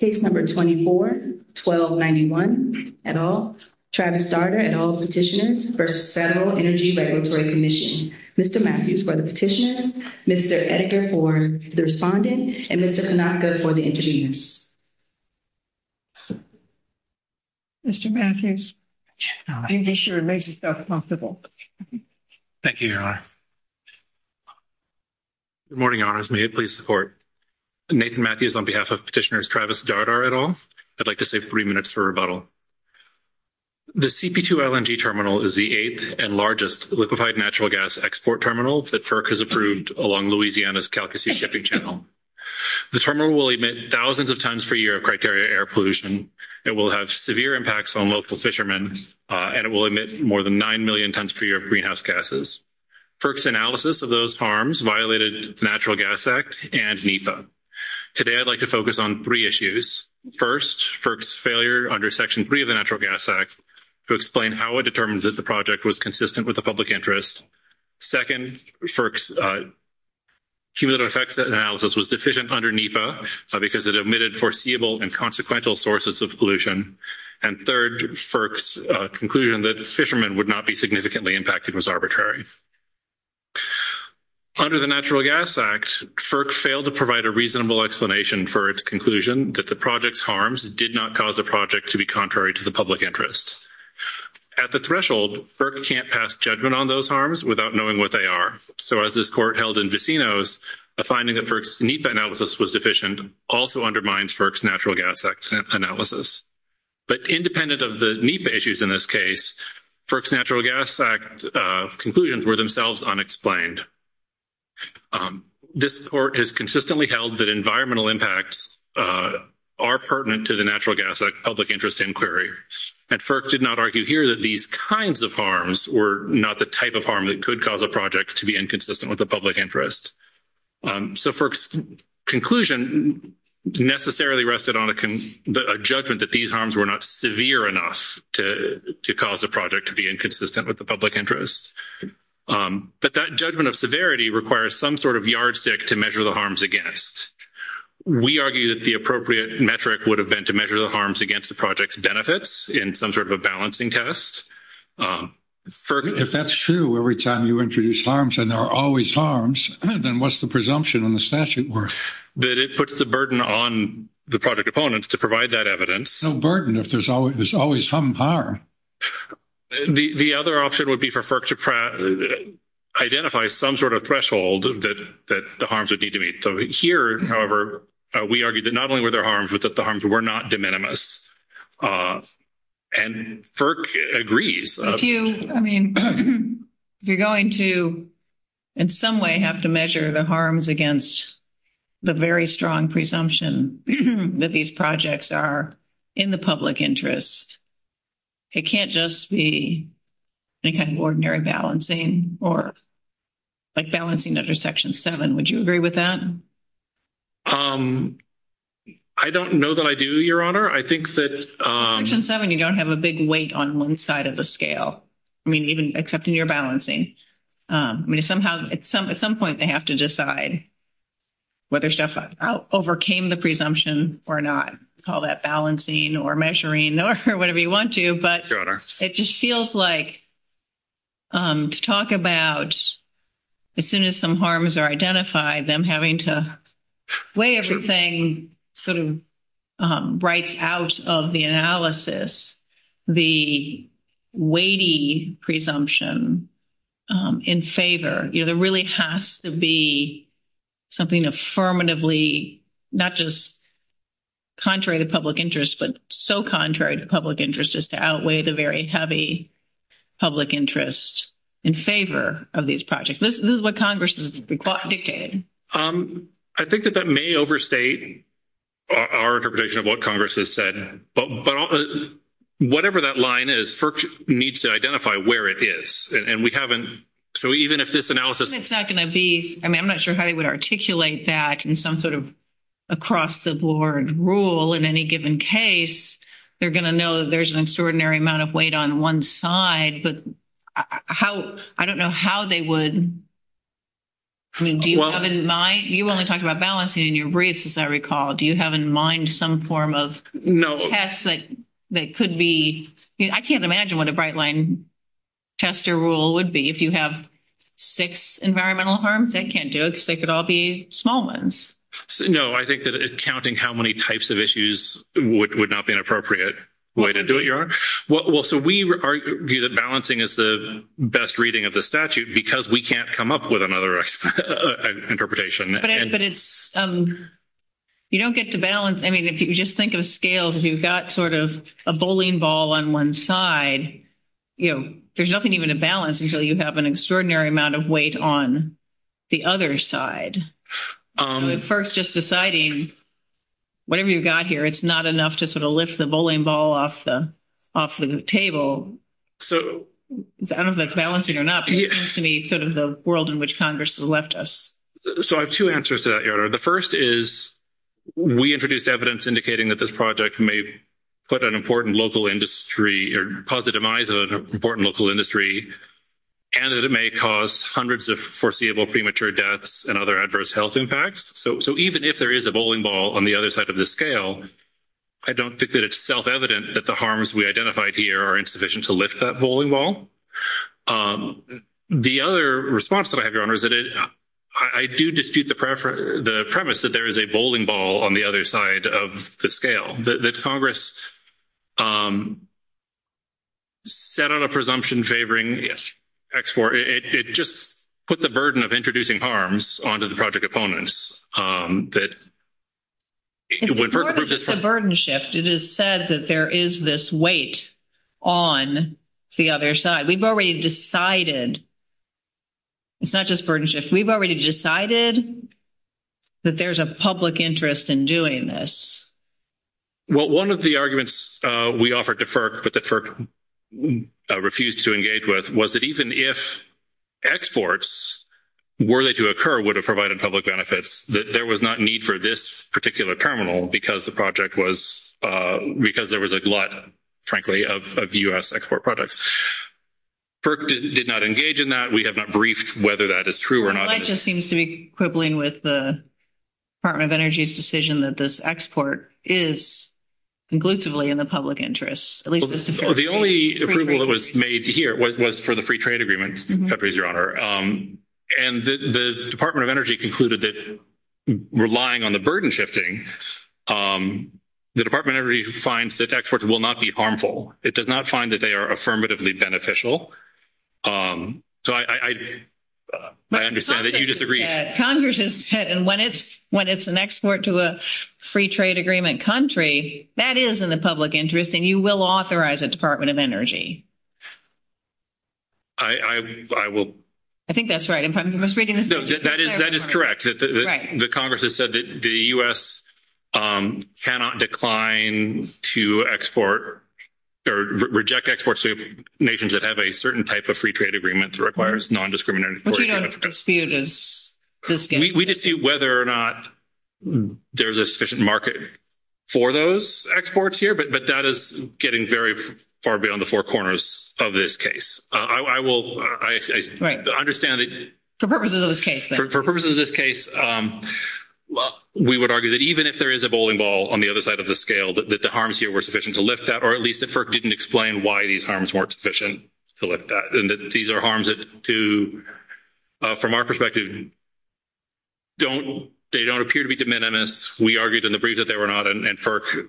Case number 24-1291, et al., Travis Dardar, et al. Petitioners for the Federal Energy Regulatory Commission. Mr. Matthews for the petitioners, Mr. Edgar for the respondent, and Mr. Tanaka for the interviews. Mr. Matthews, I think this should have made you feel comfortable. Thank you, Your Honor. Good morning, Your Honors. May it please the Court? Nathan Matthews on behalf of Petitioners Travis Dardar, et al. I'd like to save three minutes for rebuttal. The CP2 LNG terminal is the eighth and largest liquefied natural gas export terminal that FERC has approved along Louisiana's Calcasie Shipping Channel. The terminal will emit thousands of tons per year of criteria air pollution. It will have severe impacts on local fishermen, and it will emit more than nine million tons per year of greenhouse gases. FERC's analysis of those farms violated the Natural Gas Act and NEPA. Today, I'd like to focus on three issues. First, FERC's failure under Section 3 of the Natural Gas Act to explain how it determined that the project was consistent with the public interest. Second, FERC's cumulative effects analysis was deficient under NEPA because it emitted foreseeable and consequential sources of pollution. And third, FERC's conclusion that fishermen would not be significantly impacted was arbitrary. Under the Natural Gas Act, FERC failed to provide a reasonable explanation for its conclusion that the project's harms did not cause the project to be contrary to the public interest. At the threshold, FERC can't pass judgment on those harms without knowing what they are. So, as this court held in Decinos, a finding that FERC's NEPA analysis was deficient also undermines FERC's Natural Gas Act analysis. But independent of the NEPA issues in this case, FERC's Natural Gas Act conclusions were themselves unexplained. This court has consistently held that environmental impacts are pertinent to the Natural Gas Act public interest inquiry. And FERC did not argue here that these kinds of harms were not the type of harm that could cause a project to be inconsistent with the public interest. So, FERC's conclusion necessarily rested on a judgment that these harms were not severe enough to cause the project to be inconsistent with the public interest. But that judgment of severity requires some sort of yardstick to measure the harms against. We argue that the appropriate metric would have been to measure the harms against the project's benefits in some sort of a balancing test. If that's true, every time you introduce harms and there are always harms, then what's the presumption in the statute work? That it puts the burden on the project opponents to provide that evidence. No burden if there's always some harm. The other option would be for FERC to identify some sort of threshold that the harms are due to meet. So, here, however, we argue that not only were there harms, but that the harms were not de minimis. And FERC agrees. If you're going to, in some way, have to measure the harms against the very strong presumption that these projects are in the public interest, it can't just be any kind of ordinary balancing or, like, balancing under Section 7. Would you agree with that? I don't know that I do, Your Honor. I think that... Section 7, you don't have a big weight on one side of the scale. I mean, even accepting your balancing. I mean, at some point, they have to decide whether stuff overcame the presumption or not. Call that balancing or measuring or whatever you want to. But it just feels like, to talk about, as soon as some harms are identified, them having to weigh everything, sort of, right out of the analysis, the weighty presumption in favor. You know, there really has to be something affirmatively, not just contrary to public interest, but so contrary to public interest as to outweigh the very heavy public interest in favor of these projects. This is what Congress has dictated. I think that that may overstate our interpretation of what Congress has said. But whatever that line is, FERC needs to identify where it is. And we haven't... So even if this analysis... It's not going to be... I mean, I'm not sure how you would articulate that in some sort of across-the-board rule in any given case. They're going to know that there's an extraordinary amount of weight on one side. But how... I don't know how they would... I mean, do you have in mind... You only talked about balancing in your briefs, as I recall. Do you have in mind some form of... No. ...test that could be... I can't imagine what a Bright Line tester rule would be. If you have six environmental harms, they can't do it because they could all be small ones. No, I think that counting how many types of issues would not be an appropriate way to do it, Your Honor. Well, so we argue that balancing is the best reading of the statute because we can't come up with another interpretation. But it's... You don't get to balance... I mean, if you just think of scales, you've got sort of a bowling ball on one side. You know, there's nothing even to balance until you have an extraordinary amount of weight on the other side. At first, just deciding, whatever you've got here, it's not enough to sort of lift the bowling ball off the table. So... I don't know if that's balancing or not, but it seems to me sort of the world in which Congress has left us. So I have two answers to that, Your Honor. The first is we introduced evidence indicating that this project may put an important local industry or cause the demise of an important local industry and that it may cause hundreds of foreseeable premature deaths and other adverse health impacts. So even if there is a bowling ball on the other side of the scale, I don't think that it's self-evident that the harms we identified here are insufficient to lift that bowling ball. The other response that I had, Your Honor, is that I do dispute the premise that there is a bowling ball on the other side of the scale. That Congress set out a presumption favoring X4. It just put the burden of introducing harms onto the project opponents. It's a burden shift. It is said that there is this weight on the other side. We've already decided. It's not just a burden shift. We've already decided that there's a public interest in doing this. Well, one of the arguments we offered to FERC that the FERC refused to engage with was that even if exports, were they to occur, would have provided public benefits, that there was not need for this particular terminal because there was a glut, frankly, of U.S. export products. FERC did not engage in that. We have not briefed whether that is true or not. Mike just seems to be quibbling with the Department of Energy's decision that this export is conclusively in the public interest. The only approval that was made here was for the free trade agreement, Your Honor. And the Department of Energy concluded that relying on the burden shifting, the Department of Energy finds that exports will not be harmful. It does not find that they are affirmatively beneficial. So I understand that you disagree. Congress has said when it's an export to a free trade agreement country, that is in the public interest, and you will authorize the Department of Energy. I will. I think that's right. That is correct. The Congress has said that the U.S. cannot decline to export or reject exports to nations that have a certain type of free trade agreement that requires non-discriminatory. We just see whether or not there's a sufficient market for those exports here, but that is getting very far beyond the four corners of this case. Right. For purposes of this case, we would argue that even if there is a bowling ball on the other side of the scale, that the harms here were sufficient to lift that, or at least that FERC didn't explain why these harms weren't sufficient to lift that, and that these are harms that, from our perspective, don't appear to be de minimis. We argued in the brief that they were not, and FERC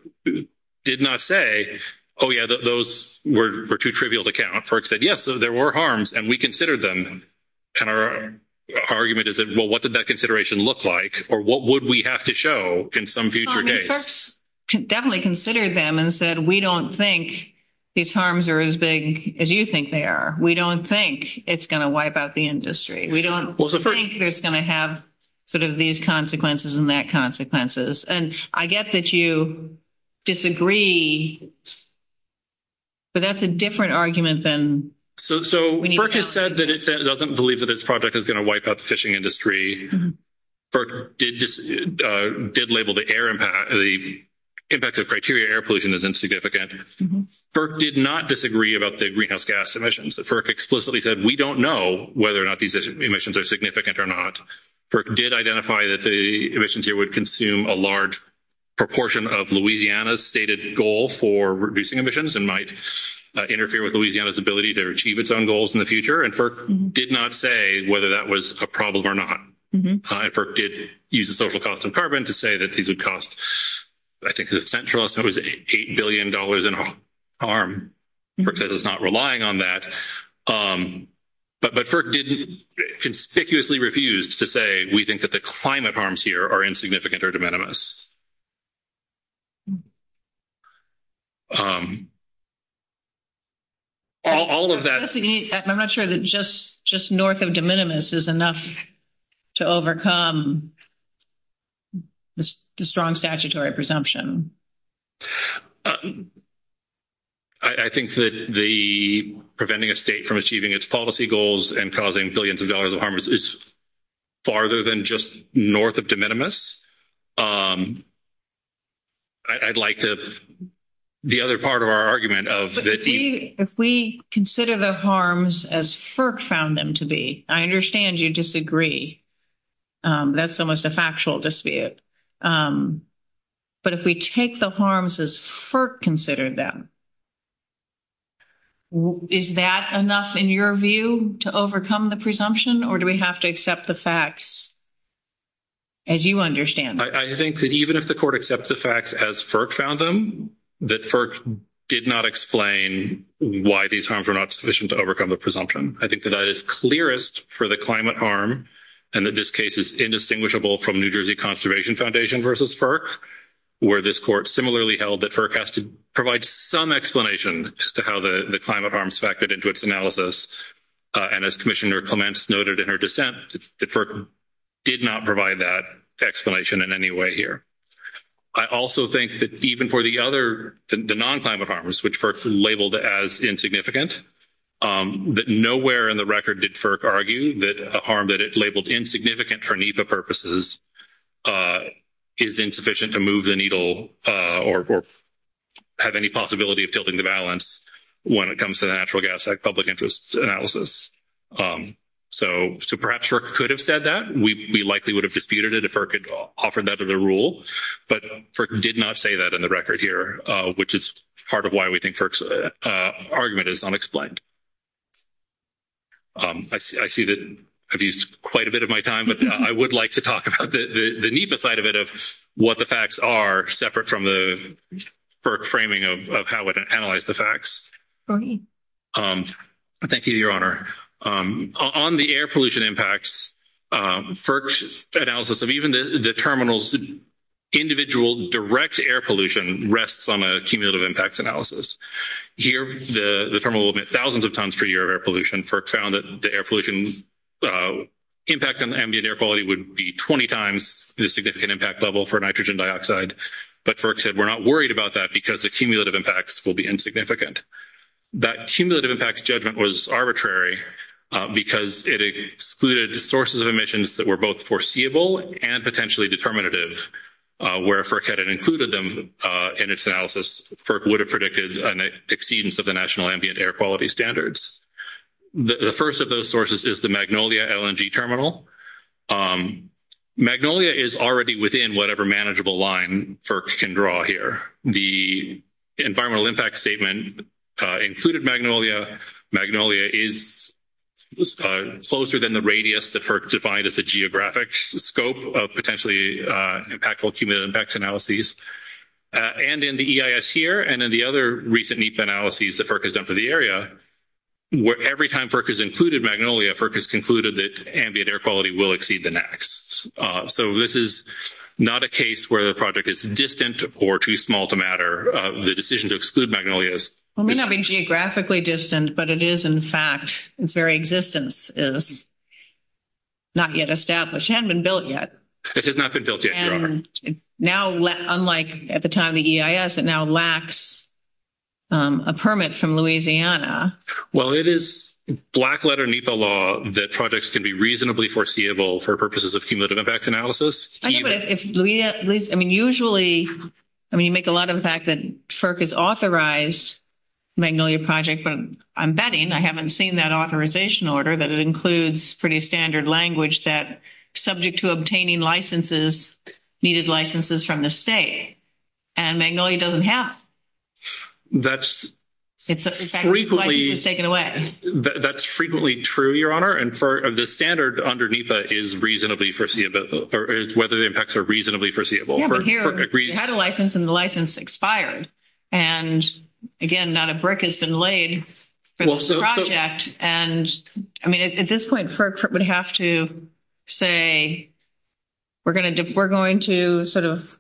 did not say, oh, yeah, those were too trivial to count. FERC said, yes, there were harms, and we considered them. And our argument is that, well, what did that consideration look like, or what would we have to show in some future case? FERC definitely considered them and said, we don't think these harms are as big as you think they are. We don't think it's going to wipe out the industry. We don't think it's going to have sort of these consequences and that consequences. And I get that you disagree, but that's a different argument than we need to have. So FERC has said that it doesn't believe that this project is going to wipe out the fishing industry. FERC did label the impact of criteria air pollution as insignificant. FERC did not disagree about the greenhouse gas emissions. FERC explicitly said, we don't know whether or not these emissions are significant or not. FERC did identify that the emissions here would consume a large proportion of Louisiana's stated goal for reducing emissions and might interfere with Louisiana's ability to achieve its own goals in the future. And FERC did not say whether that was a problem or not. And FERC did use the social cost of carbon to say that these would cost, I think the central estimate was $8 billion in harm. FERC says it's not relying on that. But FERC didn't, conspicuously refused to say we think that the climate harms here are insignificant or de minimis. All of that. I'm not sure that just north of de minimis is enough to overcome the strong statutory presumption. I think that the preventing a state from achieving its policy goals and causing billions of dollars of harm is farther than just north of de minimis. I'd like to, the other part of our argument of. If we consider the harms as FERC found them to be, I understand you disagree. That's almost a factual dispute. But if we take the harms as FERC considered them, is that enough in your view to overcome the presumption? Or do we have to accept the facts as you understand them? I think that even if the court accepts the facts as FERC found them, that FERC did not explain why these harms were not sufficient to overcome the presumption. I think that that is clearest for the climate harm. And that this case is indistinguishable from New Jersey Conservation Foundation versus FERC. Where this court similarly held that FERC has to provide some explanation as to how the climate harms factored into its analysis. And as Commissioner Clements noted in her dissent, that FERC did not provide that explanation in any way here. I also think that even for the other, the non-climate harms, which FERC labeled as insignificant. That nowhere in the record did FERC argue that a harm that is labeled insignificant for NEPA purposes is insufficient to move the needle. Or have any possibility of tilting the balance when it comes to the Natural Gas Act public interest analysis. So perhaps FERC could have said that. We likely would have disputed it if FERC offered that as a rule. But FERC did not say that in the record here. Which is part of why we think FERC's argument is unexplained. I see that I've used quite a bit of my time. But I would like to talk about the NEPA side of it. Of what the facts are separate from the FERC framing of how it would analyze the facts. Thank you, Your Honor. On the air pollution impacts, FERC's analysis of even the terminal's individual direct air pollution rests on a cumulative impacts analysis. Here, the terminal will emit thousands of tons per year of air pollution. FERC found that the air pollution impact on ambient air quality would be 20 times the significant impact level for nitrogen dioxide. But FERC said we're not worried about that because the cumulative impacts will be insignificant. That cumulative impacts judgment was arbitrary because it excluded sources of emissions that were both foreseeable and potentially determinative. Where FERC had included them in its analysis, FERC would have predicted an exceedance of the national ambient air quality standards. The first of those sources is the Magnolia LNG terminal. Magnolia is already within whatever manageable line FERC can draw here. The environmental impact statement included Magnolia. Magnolia is closer than the radius that FERC defined as the geographic scope of potentially impactful cumulative impacts analyses. And in the EIS here and in the other recent NEPA analyses that FERC has done for the area, where every time FERC has included Magnolia, FERC has concluded that ambient air quality will exceed the NAAQS. So this is not a case where the project is distant or too small to matter. The decision to exclude Magnolia is. It may not be geographically distant, but it is, in fact, its very existence is not yet established. It hasn't been built yet. It has not been built yet. And now, unlike at the time of EIS, it now lacks a permit from Louisiana. Well, it is black letter NEPA law that projects can be reasonably foreseeable for purposes of cumulative impact analysis. Actually, I mean, usually, I mean, you make a lot of the fact that FERC has authorized Magnolia project from embedding. I haven't seen that authorization order that includes pretty standard language that subject to obtaining licenses, needed licenses from the state. And Magnolia doesn't have. That's frequently true, Your Honor. And the standard under NEPA is reasonably foreseeable, or whether the impacts are reasonably foreseeable. We had a license, and the license expired. And, again, not a brick has been laid for the project. And, I mean, at this point, FERC would have to say, we're going to sort of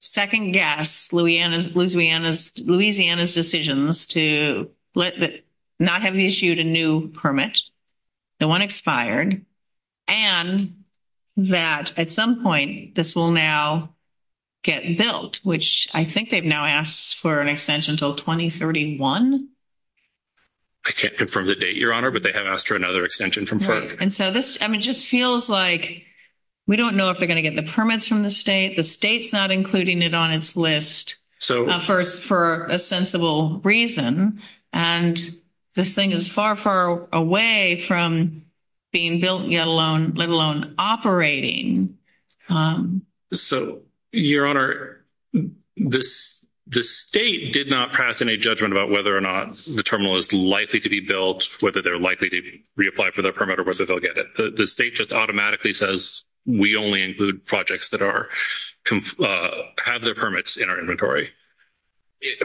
second-guess Louisiana's decisions to not have issued a new permit, the one expired, and that, at some point, this will now get built, which I think they've now asked for an extension until 2031. I can't confirm the date, Your Honor, but they have asked for another extension from FERC. And so this, I mean, just feels like we don't know if they're going to get the permits from the state. The state's not including it on its list for a sensible reason. And this thing is far, far away from being built, let alone operating. So, Your Honor, the state did not pass any judgment about whether or not the terminal is likely to be built, whether they're likely to reapply for the permit, or whether they'll get it. The state just automatically says, we only include projects that have their permits in our inventory.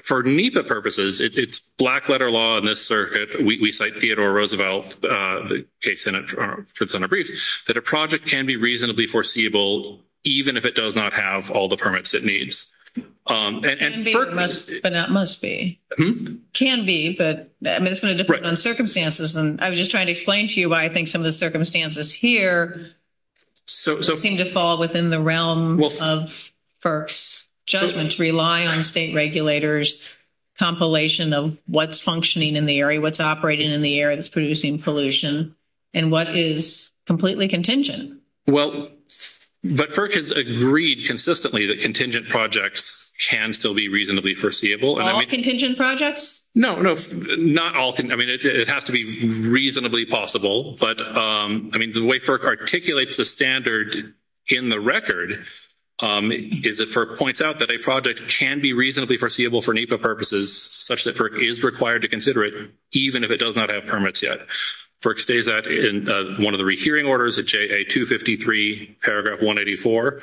For NEPA purposes, it's black-letter law in this circuit. We cite Theodore Roosevelt, the case that's in our brief, that a project can be reasonably foreseeable, even if it does not have all the permits it needs. It can be, but not must be. It can be, but it's going to depend on circumstances. And I was just trying to explain to you why I think some of the circumstances here seem to fall within the realm of FERC's judgments, relying on state regulators' compilation of what's functioning in the area, what's operating in the area that's producing pollution, and what is completely contingent. Well, but FERC has agreed consistently that contingent projects can still be reasonably foreseeable. All contingent projects? No, no. Not all. I mean, it has to be reasonably possible. But, I mean, the way FERC articulates the standard in the record is that FERC points out that a project can be reasonably foreseeable for NEPA purposes, such that FERC is required to consider it, even if it does not have permits yet. FERC states that in one of the rehearing orders, in JA 253, paragraph 184.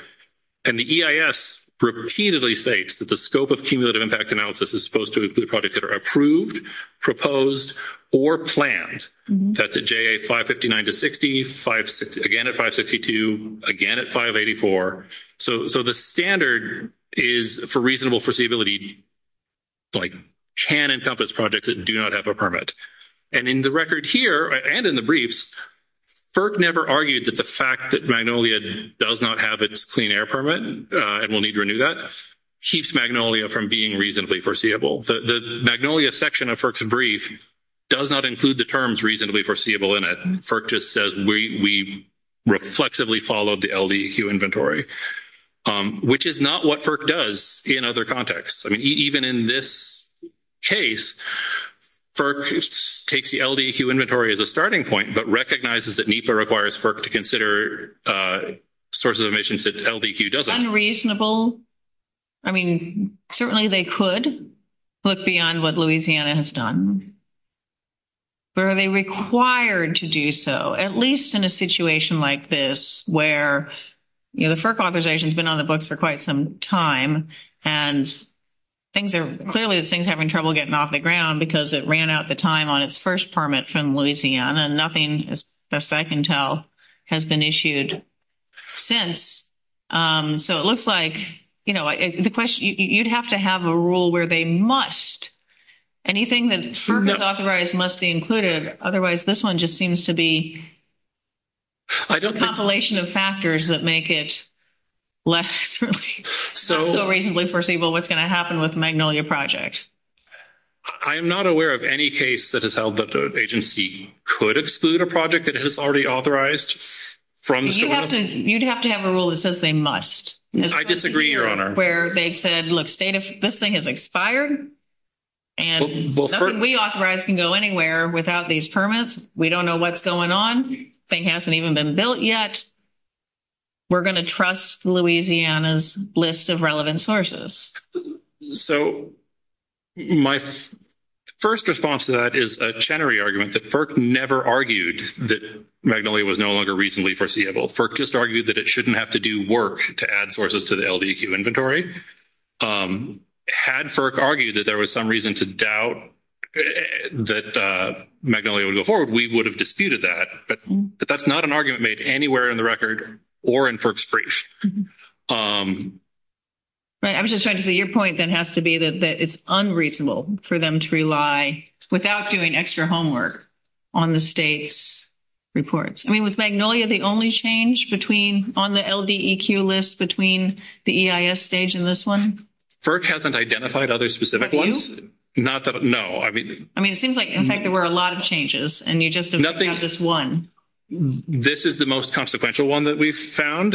And the EIS repeatedly states that the scope of cumulative impact analysis is supposed to include projects that are approved, proposed, or planned. That's at JA 559-60, again at 562, again at 584. So the standard is for reasonable foreseeability, like, can encompass projects that do not have a permit. And in the record here, and in the briefs, FERC never argued that the fact that Magnolia does not have its clean air permit, and will need to renew that, keeps Magnolia from being reasonably foreseeable. The Magnolia section of FERC's brief does not include the terms reasonably foreseeable in it. FERC just says we reflexively followed the LDEQ inventory, which is not what FERC does in other contexts. I mean, even in this case, FERC takes the LDEQ inventory as a starting point, but recognizes that NEPA requires FERC to consider sources of emissions that LDEQ doesn't. Unreasonable. I mean, certainly they could look beyond what Louisiana has done. But are they required to do so, at least in a situation like this, where, you know, the FERC authorization has been on the books for quite some time, and things are clearly having trouble getting off the ground because it ran out the time on its first permit from Louisiana, and nothing, as far as I can tell, has been issued since. So it looks like, you know, the question, you'd have to have a rule where they must, anything that FERC has authorized must be included, otherwise this one just seems to be a compilation of factors that make it less reasonably foreseeable what's going to happen with Magnolia projects. I am not aware of any case that has held that the agency could exclude a project that is already authorized. You'd have to have a rule that says they must. I disagree, Your Honor. Where they said, look, this thing has expired, and nothing we authorize can go anywhere without these permits. We don't know what's going on. The thing hasn't even been built yet. We're going to trust Louisiana's list of relevant sources. So my first response to that is a Chenery argument that FERC never argued that Magnolia was no longer reasonably foreseeable. FERC just argued that it shouldn't have to do work to add sources to the LDEQ inventory. Had FERC argued that there was some reason to doubt that Magnolia would go forward, we would have disputed that. But that's not an argument made anywhere in the record or in FERC's briefs. I was just trying to see, your point then has to be that it's unreasonable for them to rely, without doing extra homework, on the state's reports. I mean, was Magnolia the only change on the LDEQ list between the EIS stage and this one? FERC hasn't identified other specific ones. No. I mean, it seems like, in fact, there were a lot of changes, and you just have this one. This is the most consequential one that we've found.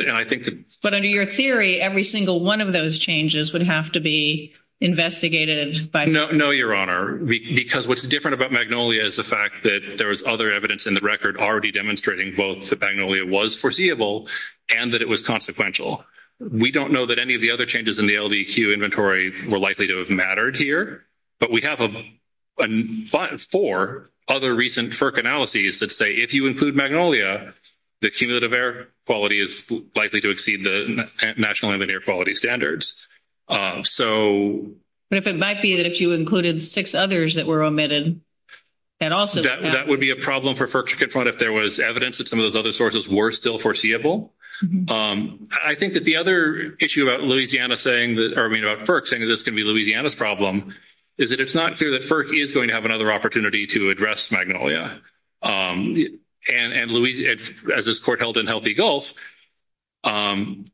But under your theory, every single one of those changes would have to be investigated by FERC. No, Your Honor, because what's different about Magnolia is the fact that there was other evidence in the record already demonstrating both that Magnolia was foreseeable and that it was consequential. We don't know that any of the other changes in the LDEQ inventory were likely to have mattered here, but we have four other recent FERC analyses that say if you include Magnolia, the cumulative air quality is likely to exceed the national ambient air quality standards. So... But if it might be that you included six others that were omitted, that also... That would be a problem for FERC to confront if there was evidence that some of those other sources were still foreseeable. I think that the other issue about Louisiana saying that – or, I mean, about FERC saying that this could be Louisiana's problem is that it's not clear that FERC is going to have another opportunity to address Magnolia. And as this court held in Healthy Gulf, projects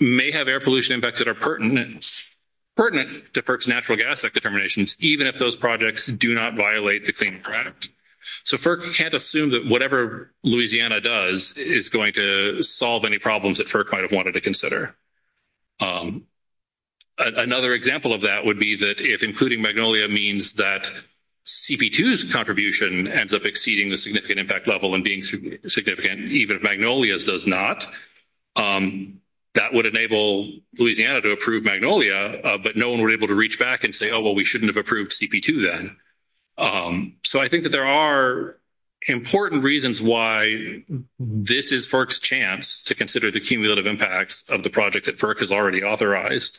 may have air pollution impacts that are pertinent to FERC's natural gas determinations, even if those projects do not violate the Clean Air Act. So FERC can't assume that whatever Louisiana does is going to solve any problems that FERC might have wanted to consider. Another example of that would be that if including Magnolia means that CP2's contribution ends up exceeding the significant impact level and being significant even if Magnolia's does not, that would enable Louisiana to approve Magnolia, but no one would be able to reach back and say, oh, well, we shouldn't have approved CP2 then. So I think that there are important reasons why this is FERC's chance to consider the cumulative impacts of the project that FERC has already authorized.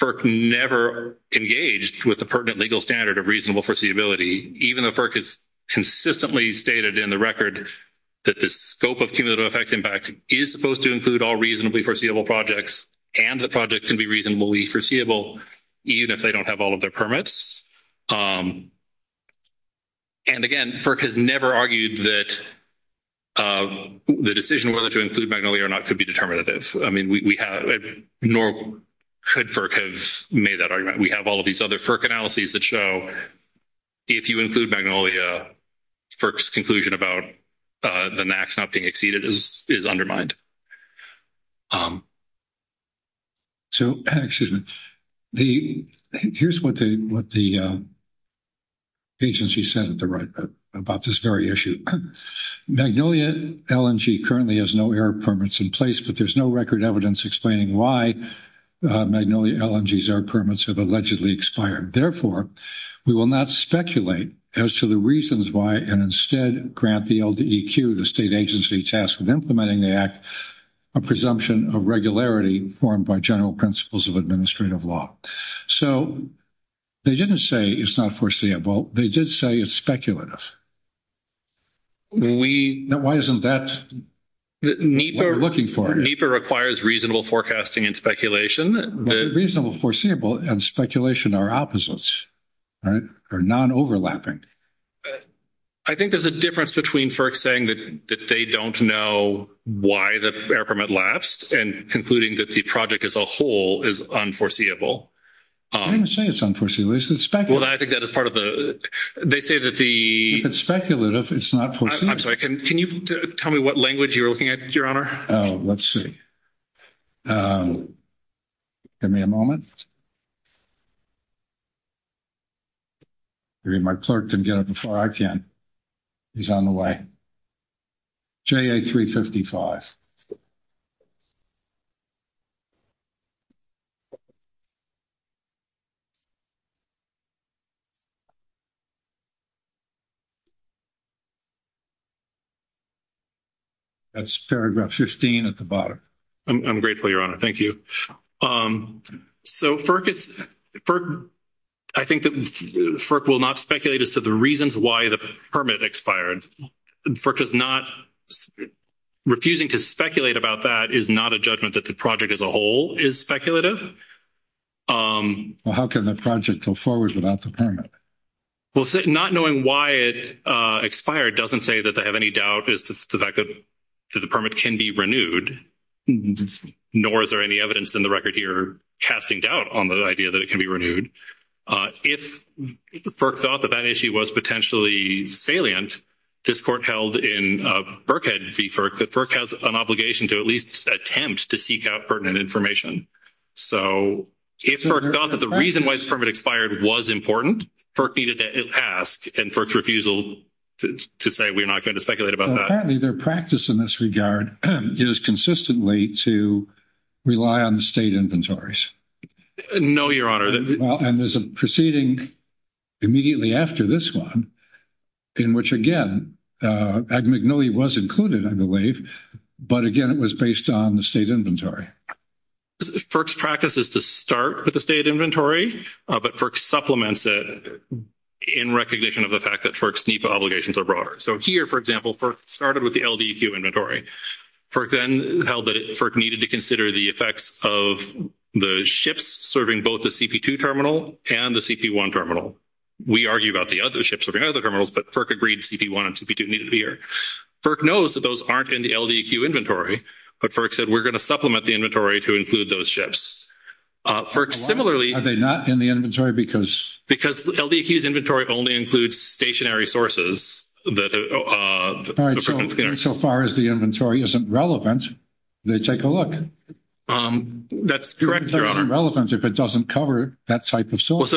FERC never engaged with the pertinent legal standard of reasonable foreseeability, even though FERC has consistently stated in the record that the scope of cumulative effects impact is supposed to include all reasonably foreseeable projects and the projects can be reasonably foreseeable even if they don't have all of their permits. And again, FERC has never argued that the decision whether to include Magnolia or not could be determinative. I mean, nor could FERC have made that argument. We have all of these other FERC analyses that show if you include Magnolia, FERC's conclusion about the NAAQS not being exceeded is undermined. So here's what the agency said at the right about this very issue. Magnolia LNG currently has no error permits in place, but there's no record evidence explaining why Magnolia LNG's error permits have allegedly expired. Therefore, we will not speculate as to the reasons why and instead grant the LDEQ, the state agency tasked with implementing the act, a presumption of regularity formed by general principles of administrative law. So they didn't say it's not foreseeable. They did say it's speculative. Why isn't that what we're looking for? NEPA requires reasonable forecasting and speculation. Reasonable, foreseeable, and speculation are opposites, right? They're non-overlapping. I think there's a difference between FERC saying that they don't know why the error permit lapsed and concluding that the project as a whole is unforeseeable. I didn't say it's unforeseeable. Well, I think that is part of the – they say that the – It's speculative. It's not foreseeable. I'm sorry. Can you tell me what language you're looking at, Your Honor? Let's see. Give me a moment. My clerk can get it before I can. He's on the way. JA355. That's paragraph 15 at the bottom. I'm grateful, Your Honor. Thank you. So FERC is – I think that FERC will not speculate as to the reasons why the permit expired. FERC does not – refusing to speculate about that is not a judgment that the project as a whole is speculative. How can the project go forward without the permit? Well, not knowing why it expired doesn't say that they have any doubt as to the fact that the permit can be renewed, nor is there any evidence in the record here casting doubt on the idea that it can be renewed. If FERC thought that that issue was potentially salient, this Court held in Berkhead v. FERC, that FERC has an obligation to at least attempt to seek out pertinent information. So if FERC thought that the reason why the permit expired was important, FERC needed to ask, and FERC's refusal to say we're not going to speculate about that. Apparently their practice in this regard is consistently to rely on the state inventories. No, Your Honor. And there's a proceeding immediately after this one in which, again, ad mignoli was included, I believe, but, again, it was based on the state inventory. FERC's practice is to start with the state inventory, but FERC supplements it in recognition of the fact that FERC's NEPA obligations are broader. So here, for example, FERC started with the LDEQ inventory. FERC then held that FERC needed to consider the effects of the ships serving both the CP2 terminal and the CP1 terminal. We argue about the other ships serving other terminals, but FERC agreed CP1 and CP2 needed here. FERC knows that those aren't in the LDEQ inventory, but FERC said we're going to supplement the inventory to include those ships. FERC similarly— Are they not in the inventory because— Because the LDEQ's inventory only includes stationary sources. All right. So far as the inventory isn't relevant, they take a look. That's correct, Your Honor. It's irrelevant if it doesn't cover that type of source.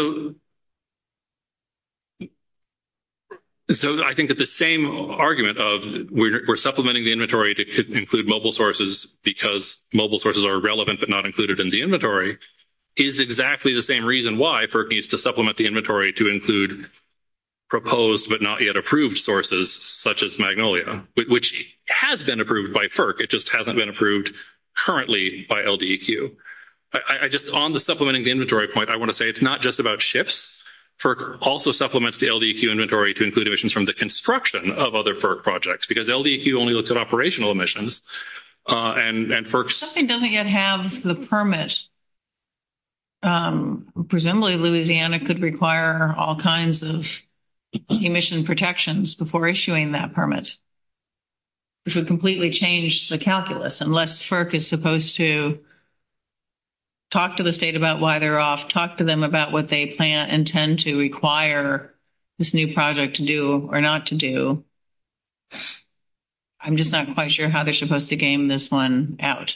So I think that the same argument of we're supplementing the inventory to include mobile sources because mobile sources are relevant but not included in the inventory is exactly the same reason why FERC needs to supplement the inventory to include proposed but not yet approved sources such as Magnolia, which has been approved by FERC. It just hasn't been approved currently by LDEQ. Just on the supplementing the inventory point, I want to say it's not just about ships. FERC also supplements the LDEQ inventory to include emissions from the construction of other FERC projects because LDEQ only looks at operational emissions and FERC's— Presumably, Louisiana could require all kinds of emission protections before issuing that permit. It would completely change the calculus unless FERC is supposed to talk to the state about why they're off, talk to them about what they plan and tend to require this new project to do or not to do. I'm just not quite sure how they're supposed to game this one out.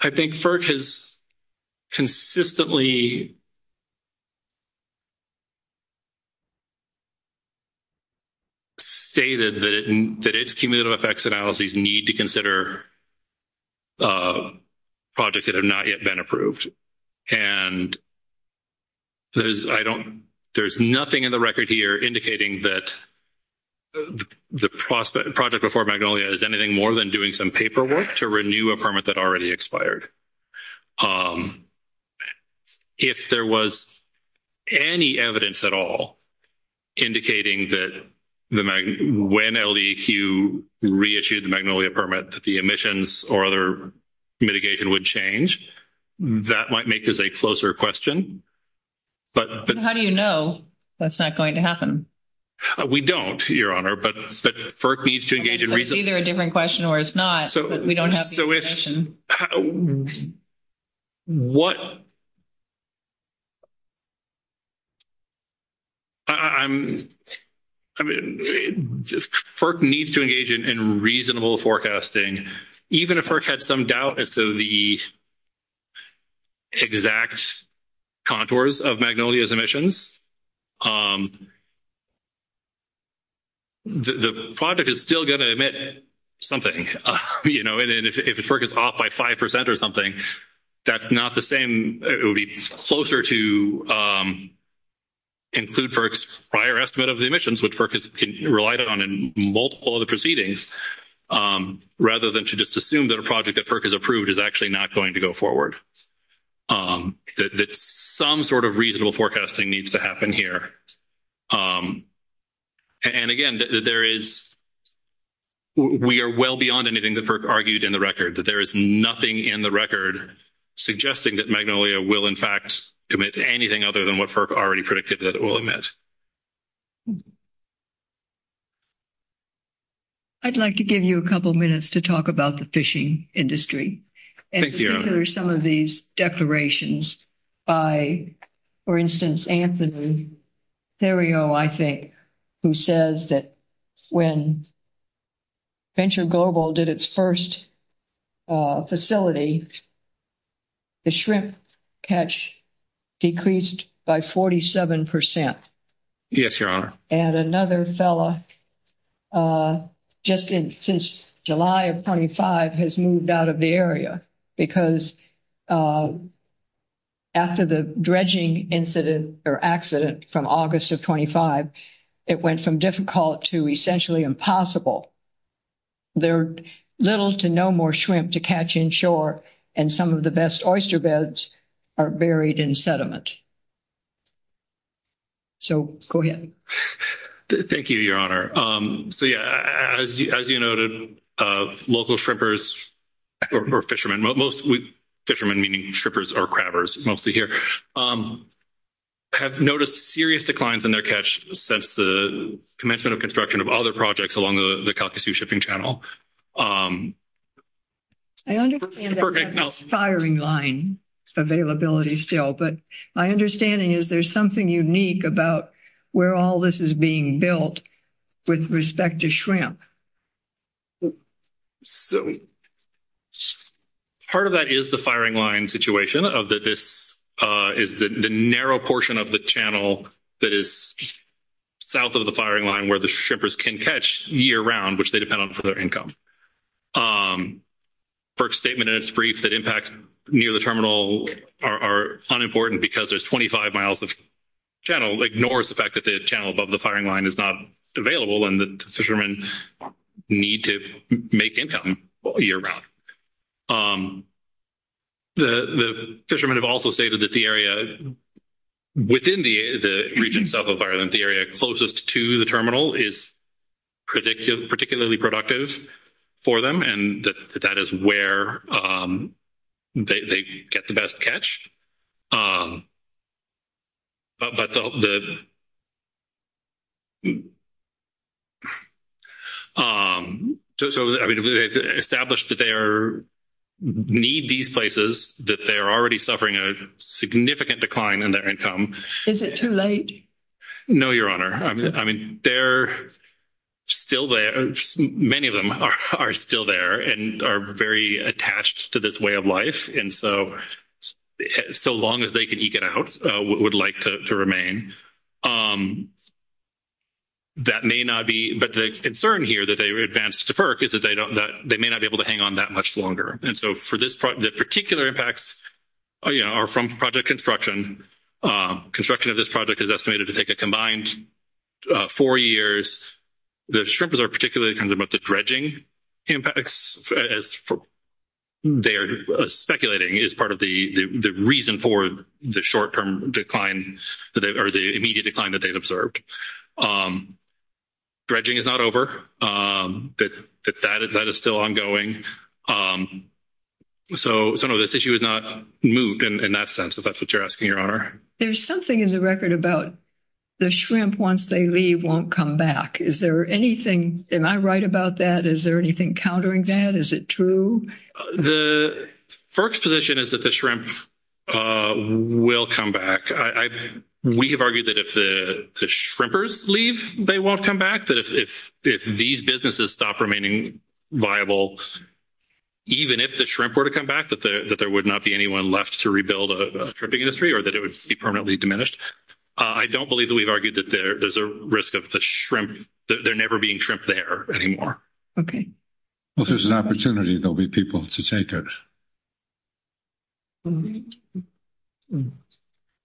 I think FERC has consistently stated that its cumulative effects analyses need to consider projects that have not yet been approved. And I don't—there's nothing in the record here indicating that the project before Magnolia is anything more than doing some paperwork to renew a permit that already expired. If there was any evidence at all indicating that when LDEQ reissued the Magnolia permit, that the emissions or other mitigation would change, that might make this a closer question. How do you know that's not going to happen? We don't, Your Honor, but FERC needs to engage in— It's either a different question or it's not, but we don't have the information. What—I mean, FERC needs to engage in reasonable forecasting. Even if FERC had some doubt as to the exact contours of Magnolia's emissions, the project is still going to emit something. You know, and if FERC is off by 5 percent or something, that's not the same. It would be closer to include FERC's prior estimate of the emissions, which FERC has relied on in multiple of the proceedings, rather than to just assume that a project that FERC has approved is actually not going to go forward. Some sort of reasonable forecasting needs to happen here. And again, there is—we are well beyond anything that FERC argued in the record. There is nothing in the record suggesting that Magnolia will, in fact, emit anything other than what FERC already predicted that it will emit. I'd like to give you a couple minutes to talk about the fishing industry. Thank you, Your Honor. Let me go through some of these declarations by, for instance, Anthony Theriot, I think, who says that when Venture Global did its first facility, the shrimp catch decreased by 47 percent. Yes, Your Honor. And another fellow, just since July of 25, has moved out of the area, because after the dredging incident or accident from August of 25, it went from difficult to essentially impossible. There are little to no more shrimp to catch inshore, and some of the best oyster beds are buried in sediment. So, go ahead. Thank you, Your Honor. So, yes, as you noted, local shrippers or fishermen—mostly fishermen, meaning shrippers or crabbers, mostly here—have noticed serious declines in their catch since the commencement of construction of other projects along the Kalkasoo Shipping Channel. I understand that we have a firing line availability still, but my understanding is there's something unique about where all this is being built with respect to shrimp. Part of that is the firing line situation, of that this is the narrow portion of the channel that is south of the firing line where the shrippers can catch year-round, which they depend on for their income. FERC's statement in its brief that impacts near the terminal are unimportant because there's 25 miles of channel ignores the fact that the channel above the firing line is not available and the fishermen need to make income year-round. The fishermen have also stated that the area within the region south of Ireland, the area closest to the terminal, is particularly productive. That is where they get the best catch. They've established that they need these places, that they're already suffering a significant decline in their income. Is it too late? No, Your Honor. I mean, they're still there. Many of them are still there and are very attached to this way of life, and so long as they can eke it out, would like to remain. But the concern here that they've advanced to FERC is that they may not be able to hang on that much longer. And so the particular impacts are from project construction. Construction of this project is estimated to take a combined four years. The shrimpers are particularly concerned about the dredging impacts, as they are speculating is part of the reason for the short-term decline or the immediate decline that they've observed. Dredging is not over. That is still ongoing. So, no, this issue is not moved in that sense, if that's what you're asking, Your Honor. There's something in the record about the shrimp, once they leave, won't come back. Is there anything—am I right about that? Is there anything countering that? Is it true? The FERC's position is that the shrimp will come back. We have argued that if the shrimpers leave, they won't come back, that if these businesses stop remaining viable, even if the shrimp were to come back, that there would not be anyone left to rebuild a shrimping industry or that it would be permanently diminished. I don't believe that we've argued that there's a risk of the shrimp— that they're never being trimmed there anymore. Okay. Well, if there's an opportunity, there'll be people to take it.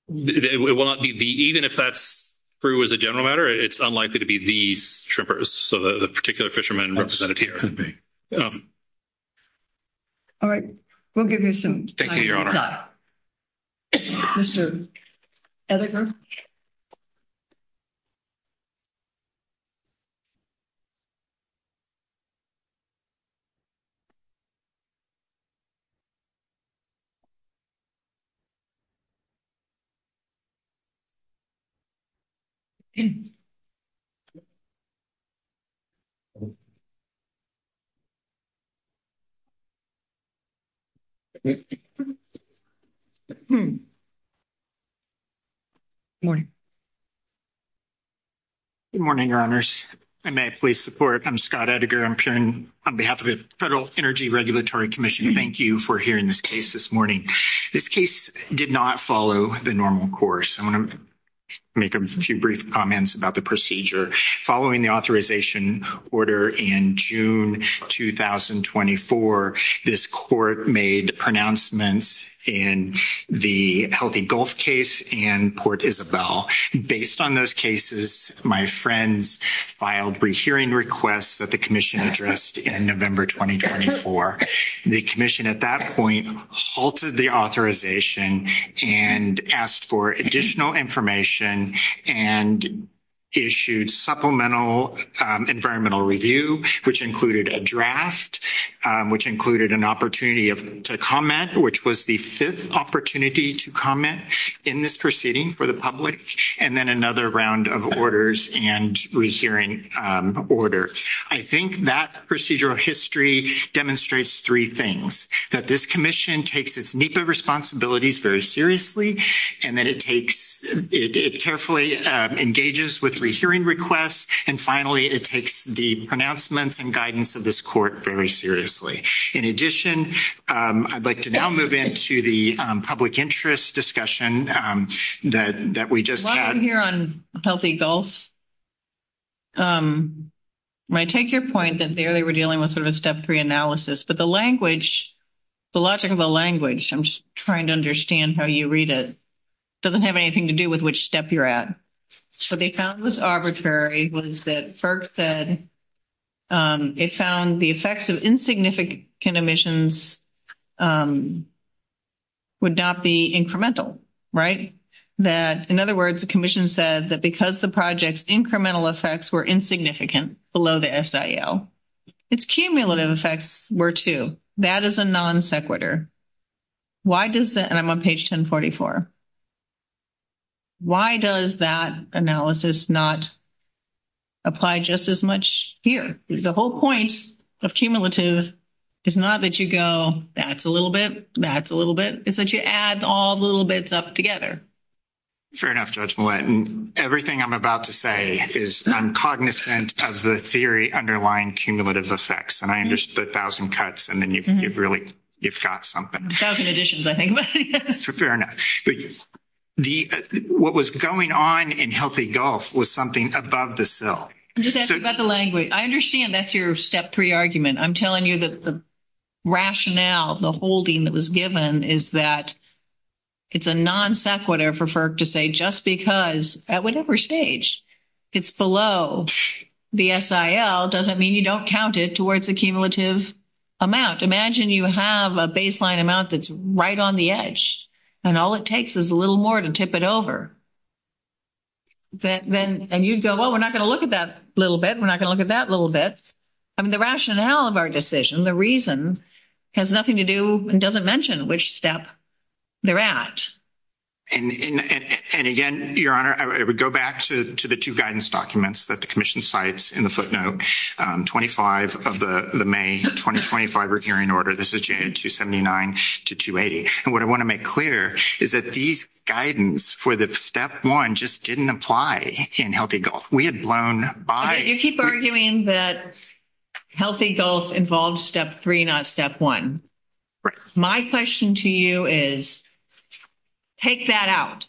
It will not be—even if that's true as a general matter, it's unlikely to be these shrimpers, so the particular fishermen represented here. All right. We'll give you some time. Thank you, Your Honor. Mr. Edgar? Thank you, Your Honor. Good morning. Good morning, Your Honors. May I please support? I'm Scott Edgar. I'm appearing on behalf of the Federal Energy Regulatory Commission. Thank you for hearing this case this morning. This case did not follow the normal course. I'm going to make a few brief comments about the procedure. Following the authorization order in June 2024, this court made pronouncements in the Healthy Gulf case and Port Isabel. Based on those cases, my friends filed rehearing requests that the commission addressed in November 2024. The commission at that point halted the authorization and asked for additional information and issued supplemental environmental review, which included a draft, which included an opportunity to comment, which was the fifth opportunity to comment in this proceeding for the public, and then another round of orders and rehearing order. I think that procedural history demonstrates three things, that this commission takes its nuclear responsibilities very seriously and that it carefully engages with rehearing requests, and finally it takes the pronouncements and guidance of this court very seriously. In addition, I'd like to now move into the public interest discussion that we just had. While I'm here on Healthy Gulf, I take your point that there they were dealing with sort of step three analysis, but the logic of the language, I'm trying to understand how you read it, doesn't have anything to do with which step you're at. What they found was arbitrary was that FERC said they found the effects of insignificant emissions would not be incremental. In other words, the commission said that because the project's incremental effects were insignificant below the SIO, its cumulative effects were too. That is a non sequitur. I'm on page 1044. Why does that analysis not apply just as much here? The whole point of cumulative is not that you go, that's a little bit, that's a little bit. It's that you add all the little bits up together. Fair enough, Judge Millett. And everything I'm about to say is I'm cognizant of the theory underlying cumulative effects. And I understood 1,000 cuts, and then you've really, you've got something. 1,000 additions, I think. Fair enough. What was going on in Healthy Gulf was something above the SIL. I'm just asking about the language. I understand that's your step three argument. I'm telling you that the rationale, the holding that was given is that it's a non sequitur for FERC to say just because at whatever stage it's below the SIL doesn't mean you don't count it towards the cumulative amount. Imagine you have a baseline amount that's right on the edge, and all it takes is a little more to tip it over. And you go, well, we're not going to look at that little bit. We're not going to look at that little bit. I mean, the rationale of our decision, the reason, has nothing to do and doesn't mention which step they're at. And again, Your Honor, I would go back to the two guidance documents that the commission cites in the footnote, 25 of the May 2025 recurring order, this is June 279 to 280. And what I want to make clear is that these guidance for the step one just didn't apply in Healthy Gulf. We had blown by. You keep arguing that Healthy Gulf involves step three, not step one. My question to you is take that out.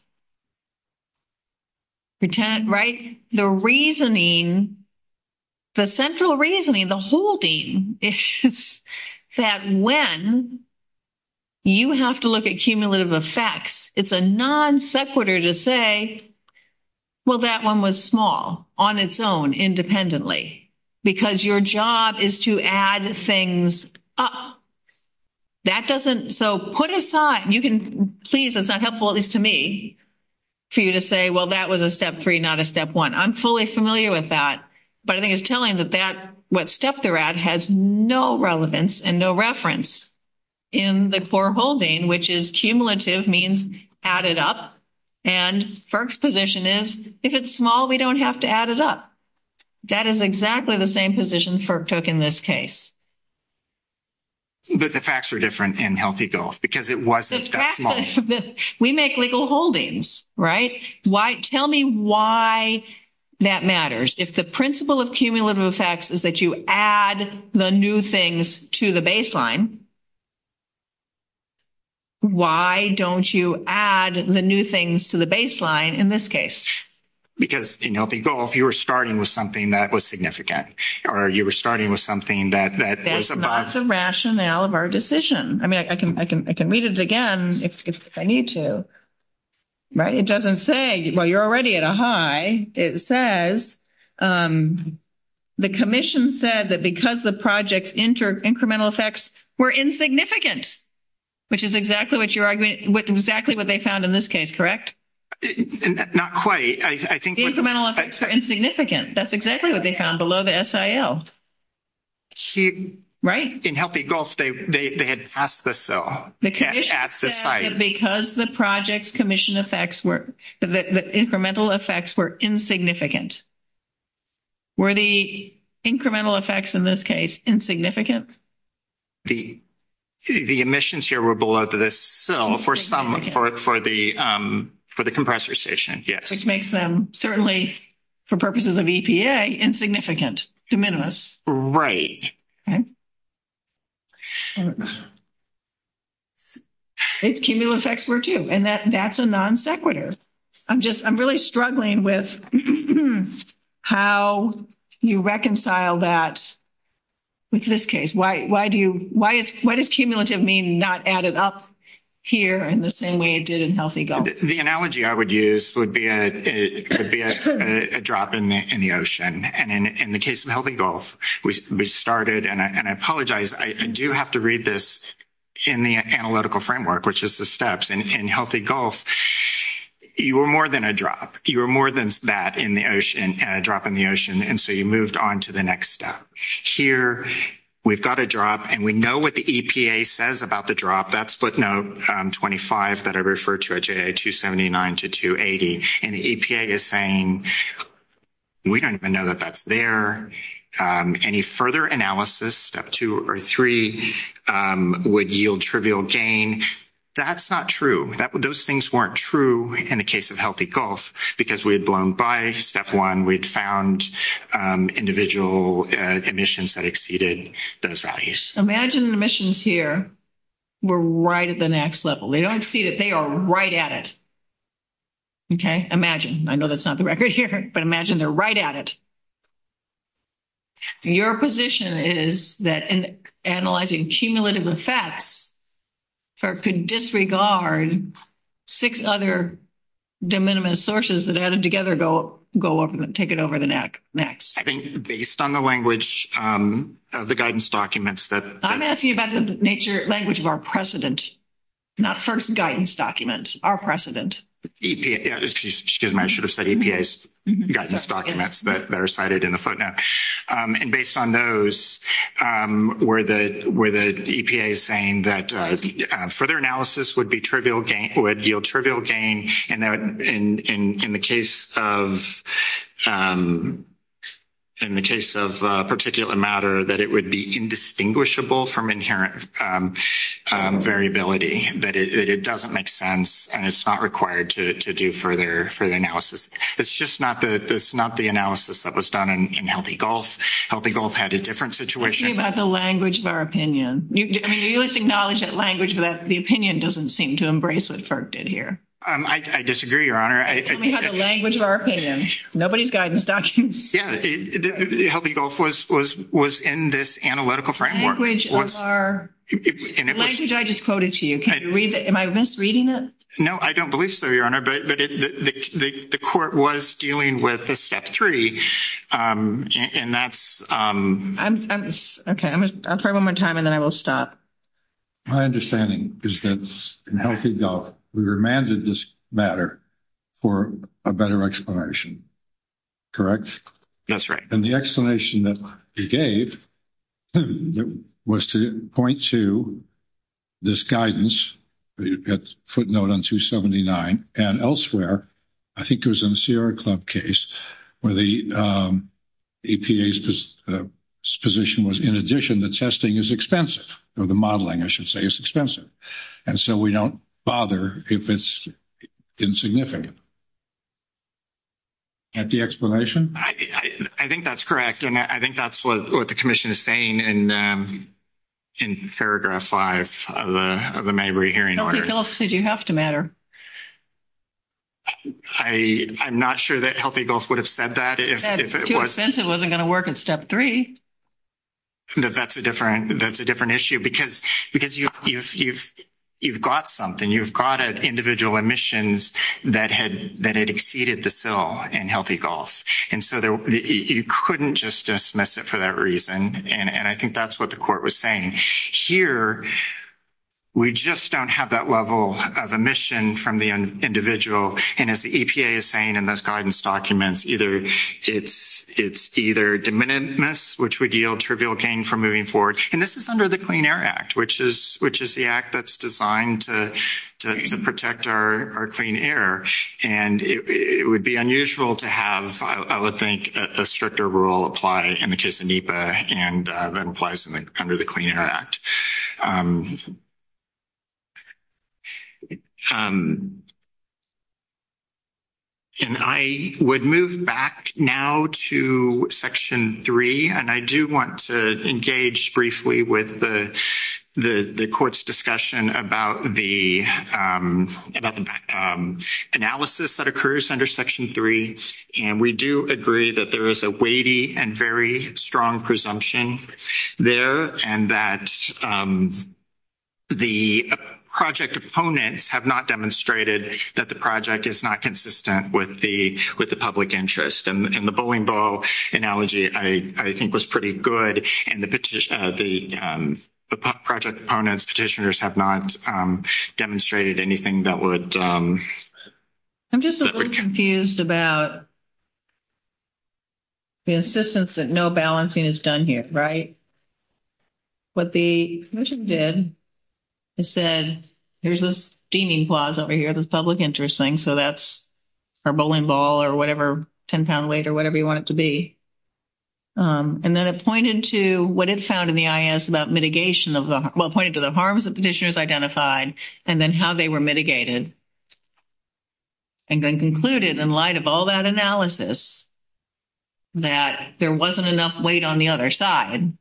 Pretend, right? The reasoning, the central reasoning, the holding is that when you have to look at cumulative effects, it's a non sequitur to say, well, that one was small on its own independently because your job is to add things up. That doesn't, so put aside, you can, please, it's not helpful, at least to me, for you to say, well, that was a step three, not a step one. I'm fully familiar with that. But I think it's telling that that, what step they're at, has no relevance and no reference in the core holding, which is cumulative means add it up. And FERC's position is if it's small, we don't have to add it up. That is exactly the same position FERC took in this case. But the facts were different in Healthy Gulf because it wasn't that small. We make legal holdings, right? Tell me why that matters. If the principle of cumulative effects is that you add the new things to the baseline, why don't you add the new things to the baseline in this case? Because, you know, if you were starting with something that was significant or you were starting with something that was about. That's not the rationale of our decision. I mean, I can read it again if I need to, right? It doesn't say. Well, you're already at a high. It says the commission said that because the project's incremental effects were insignificant, which is exactly what they found in this case, correct? Not quite. The incremental effects were insignificant. That's exactly what they found below the SIL, right? In Healthy Gulf, they had asked us so. Because the project's incremental effects were insignificant. Were the incremental effects in this case insignificant? The emissions here were below the SIL for the compressor station, yes. Which makes them, certainly for purposes of EPA, insignificant, de minimis. Right. Its cumulative effects were too, and that's a non-sequitur. I'm just, I'm really struggling with how you reconcile that with this case. Why do you, why does cumulative mean not added up here in the same way it did in Healthy Gulf? The analogy I would use would be a drop in the ocean. And in the case of Healthy Gulf, we started, and I apologize, I do have to read this in the analytical framework, which is the steps. In Healthy Gulf, you were more than a drop. You were more than that in the ocean, dropping the ocean. And so you moved on to the next step. Here, we've got a drop, and we know what the EPA says about the drop. That's split note 25 that I referred to, J279 to 280. And the EPA is saying, we don't even know that that's there. Any further analysis, step two or three, would yield trivial gain. That's not true. Those things weren't true in the case of Healthy Gulf, because we had blown by step one. We had found individual emissions that exceeded those values. Imagine emissions here were right at the next level. They don't exceed it. They are right at it. Okay. Imagine. I know that's not the record here, but imagine they're right at it. Your position is that analyzing cumulative effects could disregard six other de minimis sources that added together go up and take it over the next. I think based on the language of the guidance documents that. I'm asking about the language of our precedent, not first guidance document, our precedent. Excuse me. I should have said EPA's guidance documents that are cited in the footnote. And based on those, were the EPA saying that further analysis would yield trivial gain. And in the case of particular matter, that it would be indistinguishable from inherent variability. That it doesn't make sense, and it's not required to do further analysis. It's just not the analysis that was done in Healthy Gulf. Healthy Gulf had a different situation. I'm asking about the language of our opinion. You must acknowledge that language, but the opinion doesn't seem to embrace what FERC did here. I disagree, Your Honor. I'm asking about the language of our opinion. Nobody's guidance documents. Healthy Gulf was in this analytical framework. Language of our. The language I just quoted to you. Am I misreading it? No, I don't believe so, Your Honor. But the court was dealing with the sectory, and that's. Okay. I'll try one more time, and then I will stop. My understanding is that in Healthy Gulf, we remanded this matter for a better explanation. Correct? That's right. And the explanation that we gave was to point to this guidance, footnote on 279, and elsewhere. I think it was in Sierra Club case where the APA's position was, in addition, the testing is expensive. Or the modeling, I should say, is expensive. And so we don't bother if it's insignificant. Is that the explanation? I think that's correct. And I think that's what the commission is saying in paragraph five of the May re-hearing order. Healthy Gulf says you have to matter. I'm not sure that Healthy Gulf would have said that if it was. Too expensive wasn't going to work in step three. That's a different issue because you've got something. You've got individual emissions that had exceeded the fill in Healthy Gulf. And so you couldn't just dismiss it for that reason. And I think that's what the court was saying. Here, we just don't have that level of emission from the individual. And as the EPA is saying in those guidance documents, it's either diminutiveness, which would yield trivial gain from moving forward. And this is under the Clean Air Act, which is the act that's designed to protect our clean air. And it would be unusual to have, I would think, a stricter rule apply in the case of NEPA and then apply something under the Clean Air Act. And I would move back now to section three. And I do want to engage briefly with the court's discussion about the analysis that occurs under section three. And we do agree that there is a weighty and very strong presumption there. And that the project opponents have not demonstrated that the project is not consistent with the public interest. And the bowling ball analogy, I think, was pretty good. And the project opponents, petitioners, have not demonstrated anything that would. I'm just a little confused about the insistence that no balancing is done here, right? What the commission did is said, there's this steaming clause over here, this public interest thing. So that's our bowling ball or whatever, 10-pound weight or whatever you want it to be. And then it pointed to what it found in the I.S. about mitigation. Well, it pointed to the harms that the petitioners identified and then how they were mitigated. And then concluded, in light of all that analysis, that there wasn't enough weight on the other side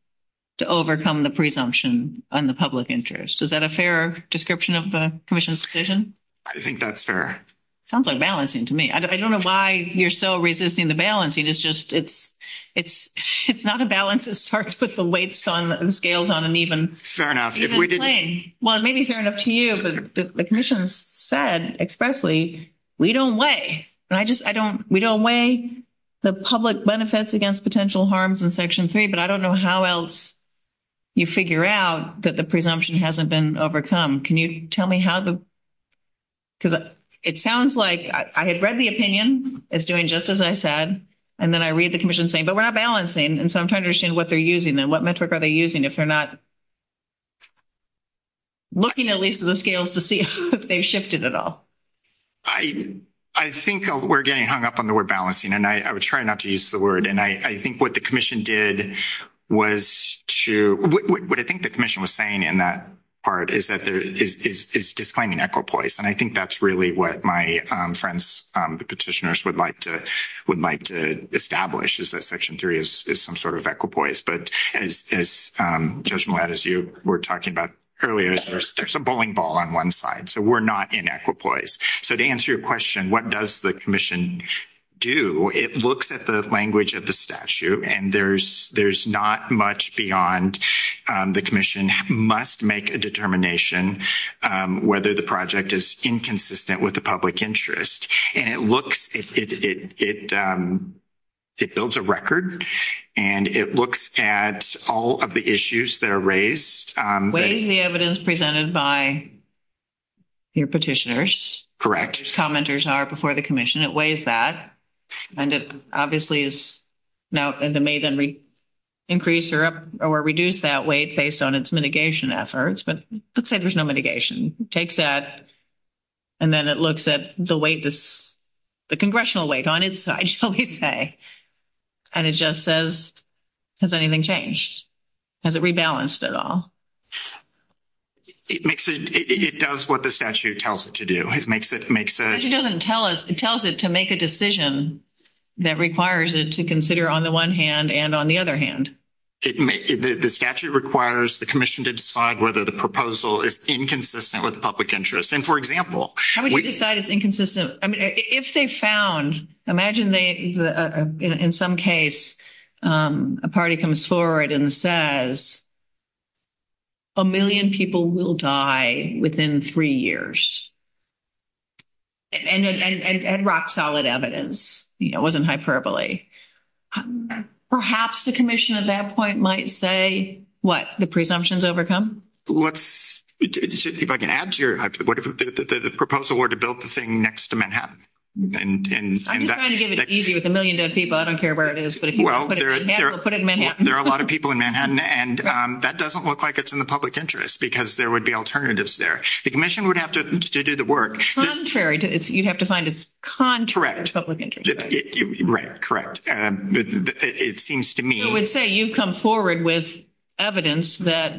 to overcome the presumption on the public interest. Is that a fair description of the commission's decision? I think that's fair. Sounds like balancing to me. I don't know why you're still resisting the balancing. It's just it's not a balance that starts with the weights and scales on an even plane. Fair enough. Well, it may be fair enough to you, but the commission said expressly, we don't weigh. We don't weigh the public benefits against potential harms in Section 3, but I don't know how else you figure out that the presumption hasn't been overcome. Can you tell me how? Because it sounds like I had read the opinion. It's doing just as I said. And then I read the commission saying, but we're not balancing. And so I'm trying to understand what they're using and what metric are they using if they're not looking at least at the scales to see if they've shifted at all. I think we're getting hung up on the word balancing, and I would try not to use the word. And I think what the commission did was to what I think the commission was saying in that part is that there is this disclaiming equipoise. And I think that's really what my friends, the petitioners would like to would like to establish is that Section 3 is some sort of equipoise. But as you were talking about earlier, there's a bowling ball on one side. So we're not in equipoise. So to answer your question, what does the commission do? It looks at the language of the statute, and there's not much beyond the commission must make a determination whether the project is inconsistent with the public interest. And it builds a record, and it looks at all of the issues that are raised. Weighs the evidence presented by your petitioners. Correct. Commenters are before the commission. It weighs that. And it obviously is now, and it may then increase or reduce that weight based on its mitigation efforts. But let's say there's no mitigation. It takes that, and then it looks at the weight, the congressional weight on its side, shall we say. And it just says, has anything changed? Has it rebalanced at all? It does what the statute tells it to do. The statute doesn't tell us. It tells it to make a decision that requires it to consider on the one hand and on the other hand. The statute requires the commission to decide whether the proposal is inconsistent with the public interest. And, for example. How would you decide it's inconsistent? If they found, imagine in some case a party comes forward and says, a million people will die within three years. And rock solid evidence. It wasn't hyperbole. Perhaps the commission at that point might say, what, the presumption is overcome? If I can add to your, the proposal were to build the thing next to Manhattan. I'm just trying to get it easy with a million dead people. I don't care where it is. But if you want to put it in Manhattan, put it in Manhattan. There are a lot of people in Manhattan. And that doesn't look like it's in the public interest because there would be alternatives there. The commission would have to do the work. Contrary, you'd have to find it's contrary to the public interest. Correct. It seems to me. I would say you've come forward with evidence that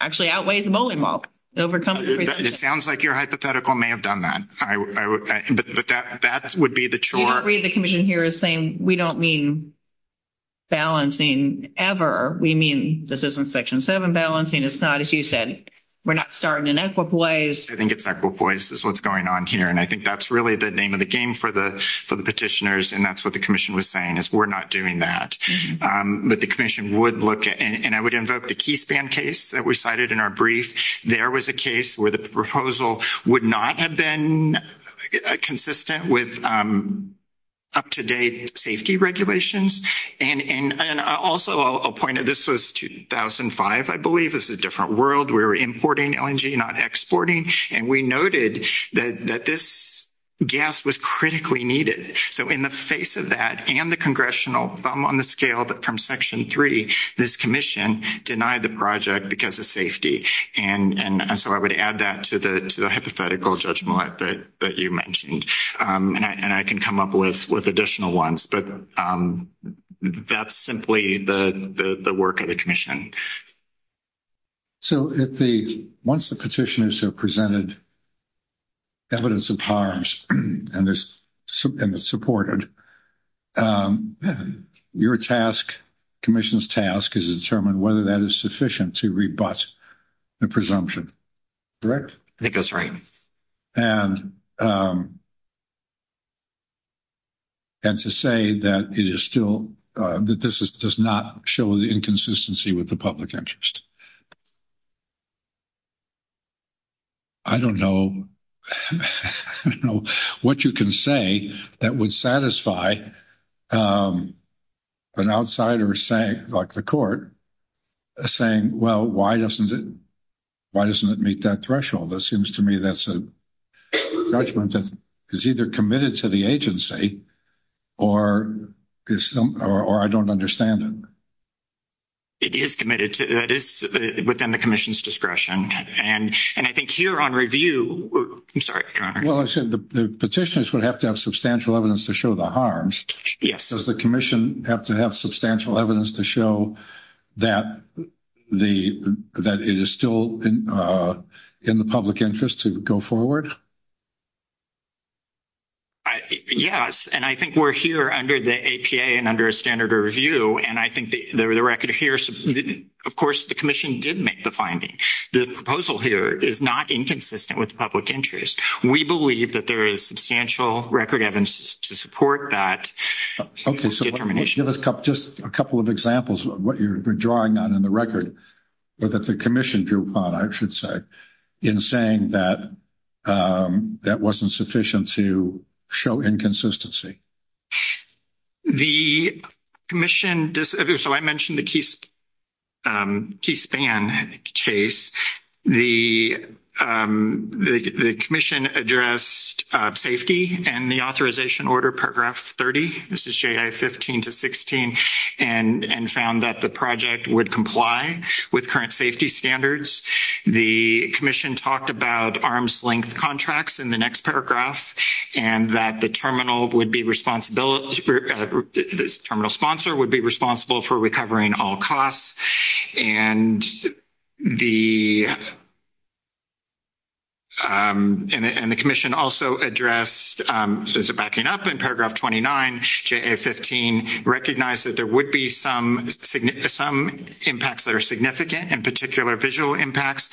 actually outweighs the bowling ball. It sounds like your hypothetical may have done that. But that would be the chart. The commission here is saying, we don't mean balancing ever. We mean, this isn't Section 7 balancing. It's not, as you said, we're not starting in Equipoise. I think it's Equipoise is what's going on here. And I think that's really the name of the game for the petitioners. And that's what the commission was saying is we're not doing that. But the commission would look at, and I would invoke the Keith Ban case that was cited in our brief. There was a case where the proposal would not have been consistent with up-to-date safety regulations. And also a point of this was 2005, I believe. This is a different world. We're importing LNG, not exporting. And we noted that this gas was critically needed. So in the face of that and the congressional, on the scale from Section 3, this commission denied the project because of safety. And so I would add that to the hypothetical judgment that you mentioned. And I can come up with additional ones. But that's simply the work of the commission. So once the petitioners have presented evidence of harms and it's supported, your task, commission's task, is to determine whether that is sufficient to rebut the presumption. Correct? I think that's right. And to say that it is still, that this does not show the inconsistency with the public interest. I don't know what you can say that would satisfy an outsider saying, like the court, saying, well, why doesn't it meet that threshold? That seems to me that's a judgment that is either committed to the agency or I don't understand it. It is committed. It is within the commission's discretion. And I think here on review, I'm sorry, Conor. Well, I said the petitioners would have to have substantial evidence to show the harms. Does the commission have to have substantial evidence to show that it is still in the public interest to go forward? Yes. And I think we're here under the APA and under a standard of review. And I think the record here, of course, the commission did make the finding. The proposal here is not inconsistent with the public interest. We believe that there is substantial record evidence to support that determination. Just a couple of examples of what you're drawing on in the record that the commission drew upon, I should say, in saying that that wasn't sufficient to show inconsistency. The commission, so I mentioned the key span case. The commission addressed safety and the authorization order, paragraph 30. This is J.I. 15 to 16, and found that the project would comply with current safety standards. The commission talked about arms-length contracts in the next paragraph, and that the terminal would be responsible for, the terminal sponsor would be responsible for recovering all costs. And the commission also addressed, so as a backing up in paragraph 29, J.I. 15, recognized that there would be some impacts that are significant, in particular visual impacts,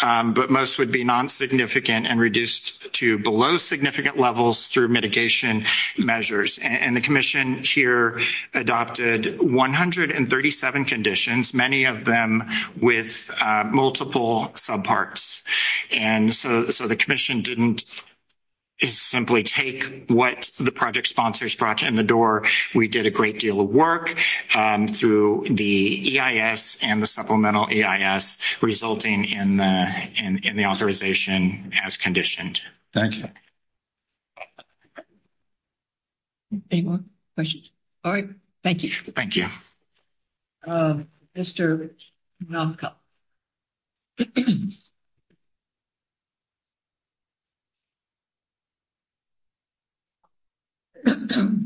but most would be non-significant and reduced to below significant levels through mitigation measures. And the commission here adopted 137 conditions, many of them with multiple subparts. And so the commission didn't simply take what the project sponsors brought in the door. We did a great deal of work through the EIS and the supplemental EIS, resulting in the authorization as conditioned. Thank you. Any more questions? All right. Thank you. Thank you. Mr. Kanopka. Good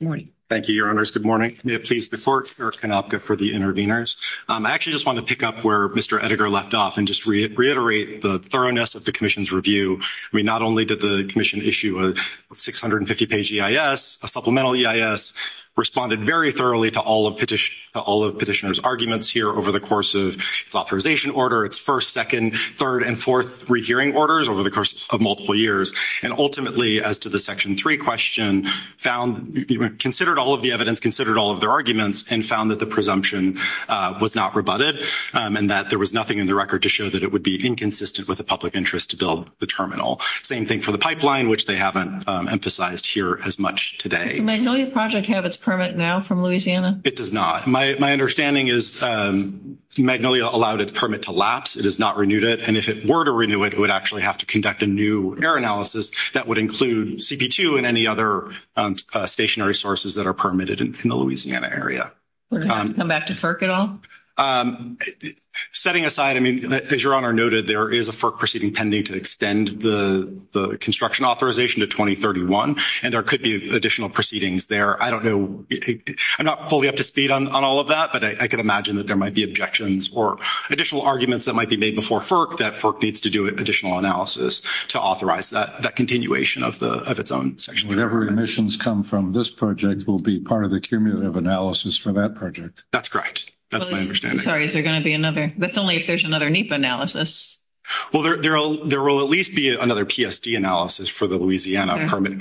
morning. Thank you, Your Honors. Good morning. Before Chair Kanopka for the interveners, I actually just wanted to pick up where Mr. Edgar left off and just reiterate the thoroughness of the commission's review. I mean, not only did the commission issue a 650-page EIS, a supplemental EIS, responded very thoroughly to all of Petitioner's arguments here over the course of its authorization order, its first, second, third, and fourth rehearing orders over the course of multiple years, and ultimately, as to the Section 3 question, considered all of the evidence, considered all of their arguments, and found that the presumption was not rebutted and that there was nothing in the record to show that it would be inconsistent with the public interest to build the terminal. Same thing for the pipeline, which they haven't emphasized here as much today. Does the Magnolia Project have its permit now from Louisiana? It does not. My understanding is Magnolia allowed its permit to lapse. It has not renewed it. And if it were to renew it, it would actually have to conduct a new error analysis that would include CP2 and any other stationary sources that are permitted in the Louisiana area. We're not going back to FERC at all? Setting aside, I mean, as Your Honor noted, there is a FERC proceeding pending to extend the construction authorization to 2031, and there could be additional proceedings there. I don't know. I'm not fully up to speed on all of that, but I can imagine that there might be objections or additional arguments that might be made before FERC that FERC needs to do additional analysis to authorize that continuation of its own Section 3. So whatever emissions come from this project will be part of the cumulative analysis for that project? That's correct. That's my understanding. Sorry, is there going to be another? That's only if there's another NEPA analysis. Well, there will at least be another PSD analysis for the Louisiana permit,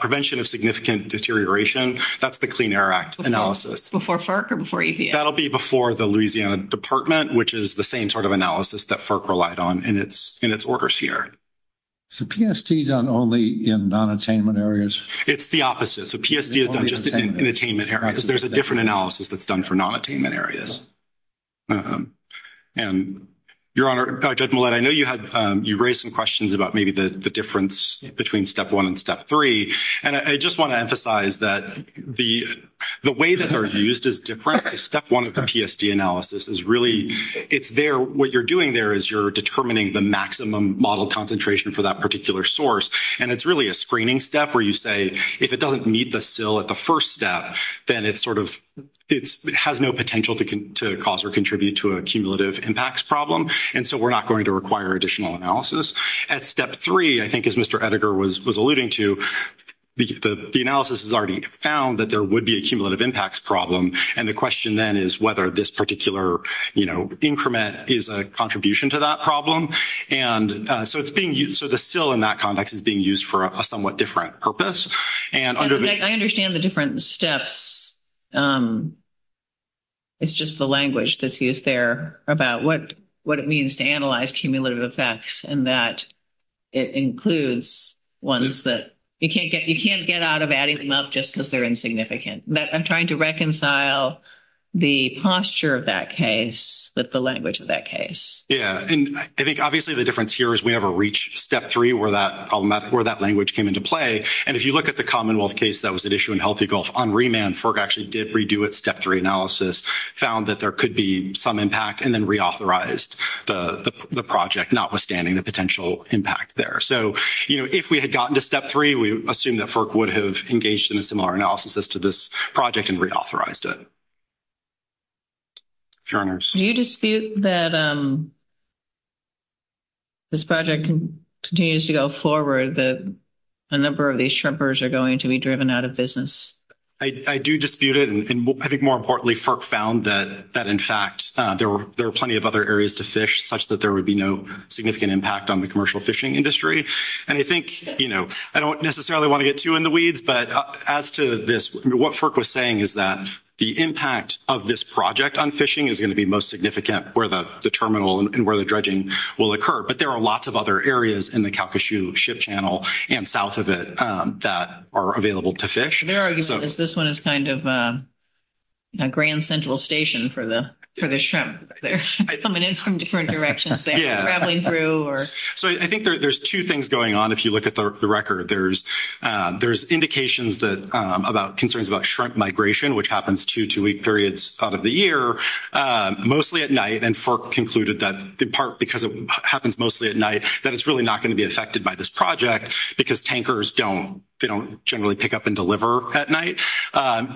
prevention of significant deterioration. That's the Clean Air Act analysis. Before FERC or before EPA? That will be before the Louisiana Department, which is the same sort of analysis that FERC relied on in its orders here. Is the PSD done only in non-attainment areas? It's the opposite. The PSD is not just in attainment areas. There's a different analysis that's done for non-attainment areas. Your Honor, Judge Millett, I know you raised some questions about maybe the difference between Step 1 and Step 3, and I just want to emphasize that the way that they're used is different. Step 1 of the PSD analysis is really, it's there. What you're doing there is you're determining the maximum model concentration for that particular source, and it's really a screening step where you say if it doesn't meet the SIL at the first step, then it sort of has no potential to cause or contribute to a cumulative impacts problem, and so we're not going to require additional analysis. At Step 3, I think as Mr. Edgar was alluding to, the analysis has already found that there would be a cumulative impacts problem, and the question then is whether this particular increment is a contribution to that problem, and so the SIL in that context is being used for a somewhat different purpose. I understand the different steps. It's just the language that's used there about what it means to analyze cumulative effects and that it includes ones that you can't get out of adding them up just because they're insignificant. I'm trying to reconcile the posture of that case with the language of that case. Yeah, and I think obviously the difference here is we never reached Step 3 where that language came into play, and if you look at the Commonwealth case that was at issue in Healthy Gulf on remand, FERC actually did redo its Step 3 analysis, found that there could be some impact, and then reauthorized the project, notwithstanding the potential impact there. If we had gotten to Step 3, we assumed that FERC would have engaged in similar analysis as to this project and reauthorized it. Do you dispute that this project continues to go forward, that a number of these shrimpers are going to be driven out of business? I do dispute it, and I think more importantly, FERC found that in fact there are plenty of other areas to fish, such that there would be no significant impact on the commercial fishing industry. And I think, you know, I don't necessarily want to get too in the weeds, but as to this, what FERC was saying is that the impact of this project on fishing is going to be most significant where the terminal and where the dredging will occur, but there are lots of other areas in the Calcasieu Ship Channel and south of it that are available to fish. Their argument is this one is kind of a Grand Central Station for the shrimp. They're coming in from different directions. They're traveling through or... So I think there's two things going on if you look at the record. There's indications about concerns about shrimp migration, which happens two two-week periods out of the year, mostly at night, and FERC concluded that in part because it happens mostly at night, that it's really not going to be affected by this project because tankers don't generally pick up and deliver at night.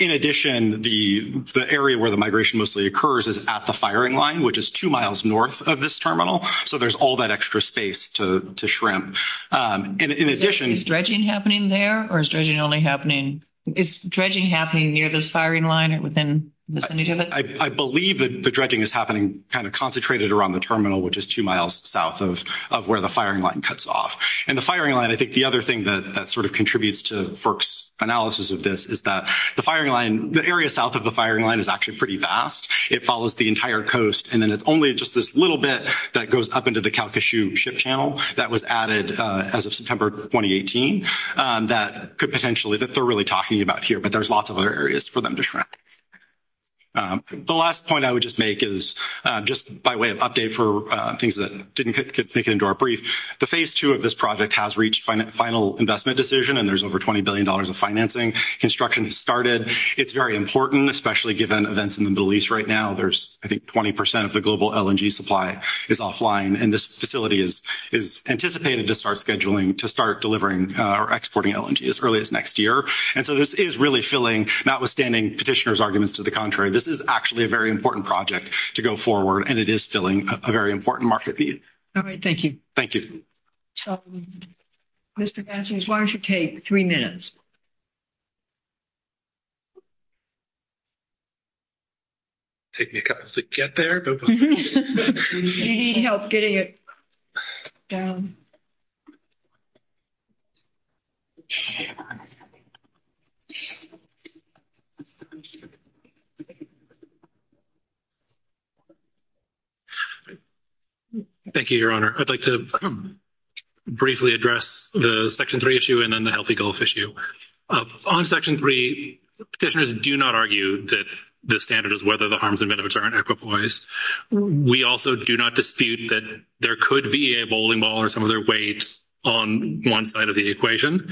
In addition, the area where the migration mostly occurs is at the firing line, which is two miles north of this terminal, so there's all that extra space to shrimp. In addition... Is dredging happening there, or is dredging only happening... Is dredging happening near this firing line within the vicinity of it? I believe that the dredging is happening kind of concentrated around the terminal, which is two miles south of where the firing line cuts off. And the firing line, I think the other thing that sort of contributes to FERC's analysis of this, is that the area south of the firing line is actually pretty vast. It follows the entire coast, and then it's only just this little bit that goes up into the Calcasieu Ship Channel that was added as of September 2018 that could potentially... They're really talking about here, but there's lots of other areas for them to shrimp. The last point I would just make is just by way of update for things that didn't make it into our brief. The phase two of this project has reached final investment decision, and there's over $20 billion of financing. Construction has started. It's very important, especially given events in the Middle East right now. I think 20% of the global LNG supply is offline, and this facility is anticipated to start delivering or exporting LNG as early as next year. And so this is really filling, notwithstanding petitioner's arguments to the contrary, this is actually a very important project to go forward, and it is filling a very important market need. All right. Thank you. Thank you. Mr. Manson, why don't you take three minutes? Take me a couple of minutes to get there? You need help getting it down. Thank you, Your Honor. I'd like to briefly address the Section 3 issue and then the Healthy Gulf issue. On Section 3, petitioners do not argue that the standard is whether the harms and benefits are equitable. We also do not dispute that there could be a bowling ball or some other weight on one side of the equation.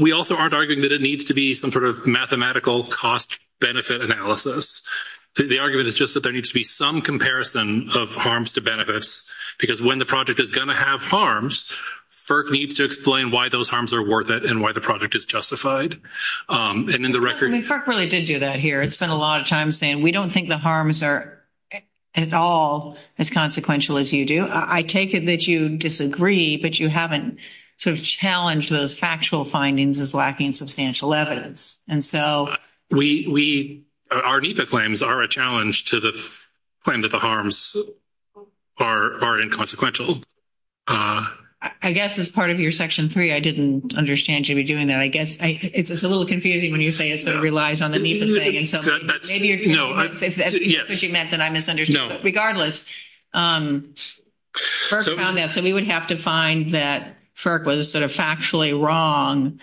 We also aren't arguing that it needs to be some sort of mathematical cost-benefit analysis. The argument is just that there needs to be some comparison of harms to benefits, because when the project is going to have harms, FERC needs to explain why those harms are worth it and why the project is justified. FERC really did do that here. It spent a lot of time saying we don't think the harms are at all as consequential as you do. I take it that you disagree that you haven't sort of challenged those factual findings as lacking substantial evidence. Our NEPA claims are a challenge to the claim that the harms are inconsequential. I guess as part of your Section 3, I didn't understand you were doing that. I guess it's a little confusing when you say it sort of relies on the NEPA claim. Maybe you're pushing that that I misunderstood. Regardless, we would have to find that FERC was sort of factually wrong.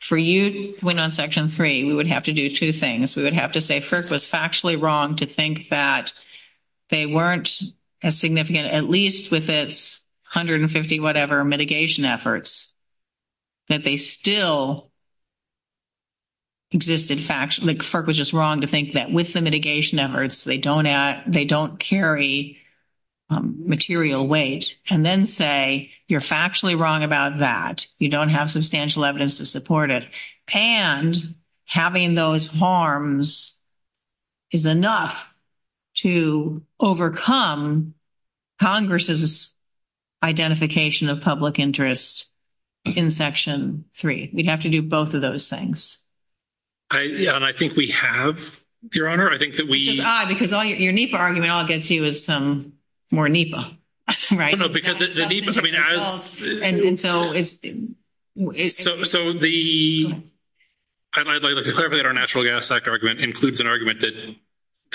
For you, when on Section 3, we would have to do two things. We would have to say FERC was factually wrong to think that they weren't as significant, at least with its 150-whatever mitigation efforts, that they still existed factually. FERC was just wrong to think that with the mitigation efforts, they don't carry material weight. And then say you're factually wrong about that. You don't have substantial evidence to support it. And having those harms is enough to overcome Congress' identification of public interest in Section 3. We'd have to do both of those things. And I think we have, Your Honor. I think that we- Ah, because your NEPA argument all I could see was some more NEPA, right? No, because the NEPA- And so it's- So the- I'd like to clarify that our Natural Gas Act argument includes an argument that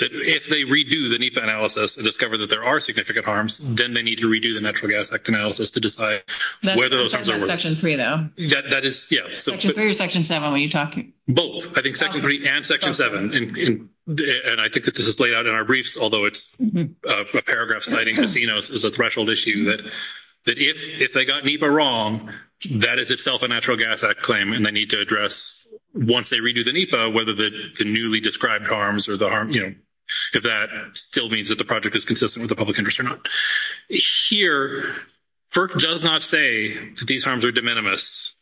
if they redo the NEPA analysis and discover that there are significant harms, then they need to redo the Natural Gas Act analysis to decide whether- That's in Section 3, though. That is, yes. Section 3 or Section 7? What are you talking- Both. I think Section 3 and Section 7. And I think that this is laid out in our briefs, although it's a paragraph citing as a threshold issue, that if they got NEPA wrong, that is itself a Natural Gas Act claim. And they need to address, once they redo the NEPA, whether the newly described harms or the harm- you know, if that still means that the project is consistent with the public interest or not. Here, FERC does not say that these harms are de minimis.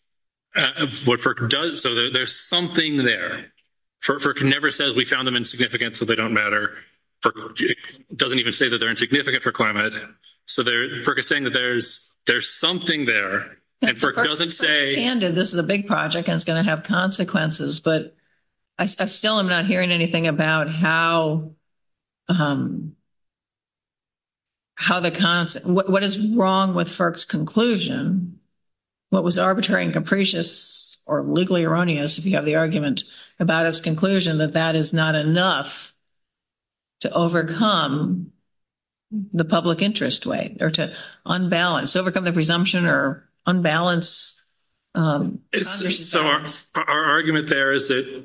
What FERC does- so there's something there. FERC never says, we found them insignificant, so they don't matter. FERC doesn't even say that they're insignificant for climate. So FERC is saying that there's something there. And FERC doesn't say- What is wrong with FERC's conclusion? What was arbitrary and capricious or legally erroneous, if you have the argument, about its conclusion that that is not enough to overcome the public interest way or to unbalance- overcome the presumption or unbalance- So our argument there is that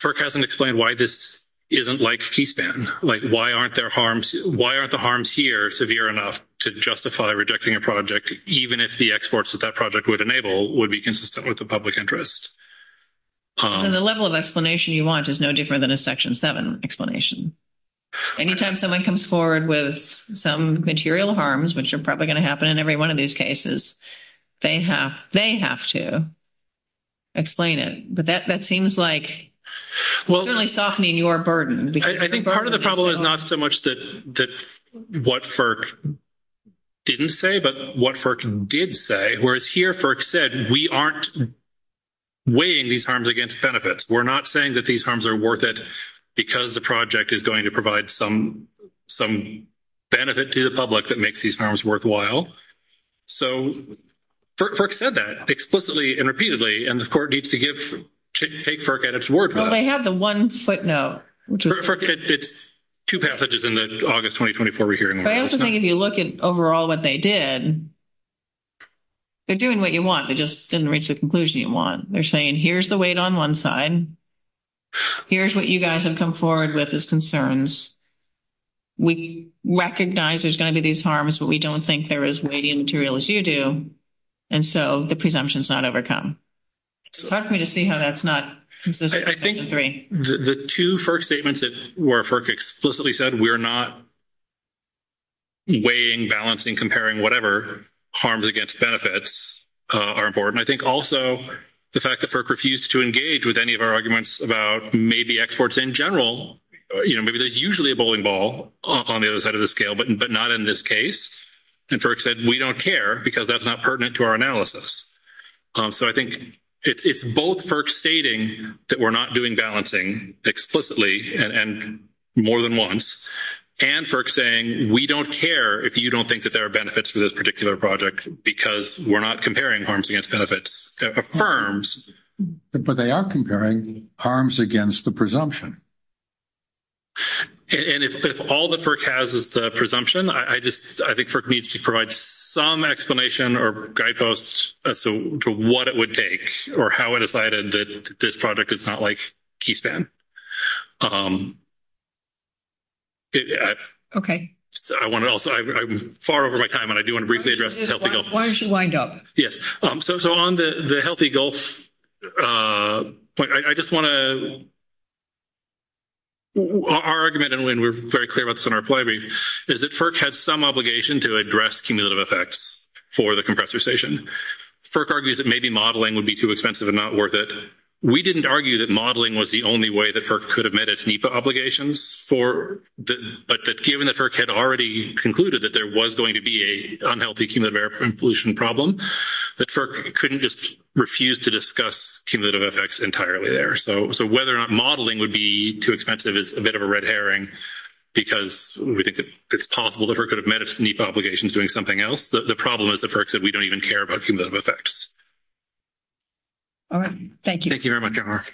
FERC hasn't explained why this isn't like T-SPAN. Like, why aren't their harms- why aren't the harms here severe enough to justify rejecting a project, even if the exports that that project would enable would be consistent with the public interest? And the level of explanation you want is no different than a Section 7 explanation. Anytime someone comes forward with some material harms, which are probably going to happen in every one of these cases, they have to explain it. But that seems like- Well- Part of the problem is not so much that what FERC didn't say, but what FERC did say. Whereas here, FERC said, we aren't weighing these harms against benefits. We're not saying that these harms are worth it because the project is going to provide some benefit to the public that makes these harms worthwhile. So FERC said that explicitly and repeatedly. And the court needs to give- take FERC at its word for that. But they have the one footnote, which is- FERC did two passages in the August 2024 hearing. I also think if you look at overall what they did, they're doing what you want. They just didn't reach the conclusion you want. They're saying, here's the weight on one side. Here's what you guys have come forward with as concerns. We recognize there's going to be these harms, but we don't think they're as weighty a material as you do. And so the presumption's not overcome. Talk to me to see how that's not consistent with Section 3. I think the two FERC statements where FERC explicitly said we're not weighing, balancing, comparing whatever harms against benefits are important. I think also the fact that FERC refused to engage with any of our arguments about maybe exports in general. You know, maybe there's usually a bowling ball on the other side of the scale, but not in this case. And FERC said we don't care because that's not pertinent to our analysis. So I think it's both FERC stating that we're not doing balancing explicitly, and more than once, and FERC saying we don't care if you don't think that there are benefits for this particular project because we're not comparing harms against benefits, that affirms. But they are comparing harms against the presumption. And if all that FERC has is the presumption, I think FERC needs to provide some explanation or guideposts as to what it would take or how it is that this project is not, like, key span. Okay. I'm far over my time, and I do want to briefly address the Healthy Gulf. Why don't you wind up? Yes. So on the Healthy Gulf point, I just want to – our argument, and we're very clear about this in our plenary, is that FERC has some obligation to address cumulative effects for the compressor station. FERC argues that maybe modeling would be too expensive and not worth it. We didn't argue that modeling was the only way that FERC could have met its NEPA obligations for – but that given that FERC had already concluded that there was going to be an unhealthy cumulative air pollution problem, that FERC couldn't just refuse to discuss cumulative effects entirely there. So whether or not modeling would be too expensive is a bit of a red herring, because we think it's possible that FERC could have met its NEPA obligations doing something else. The problem is that FERC said we don't even care about cumulative effects. All right. Thank you. Thank you very much, Amar.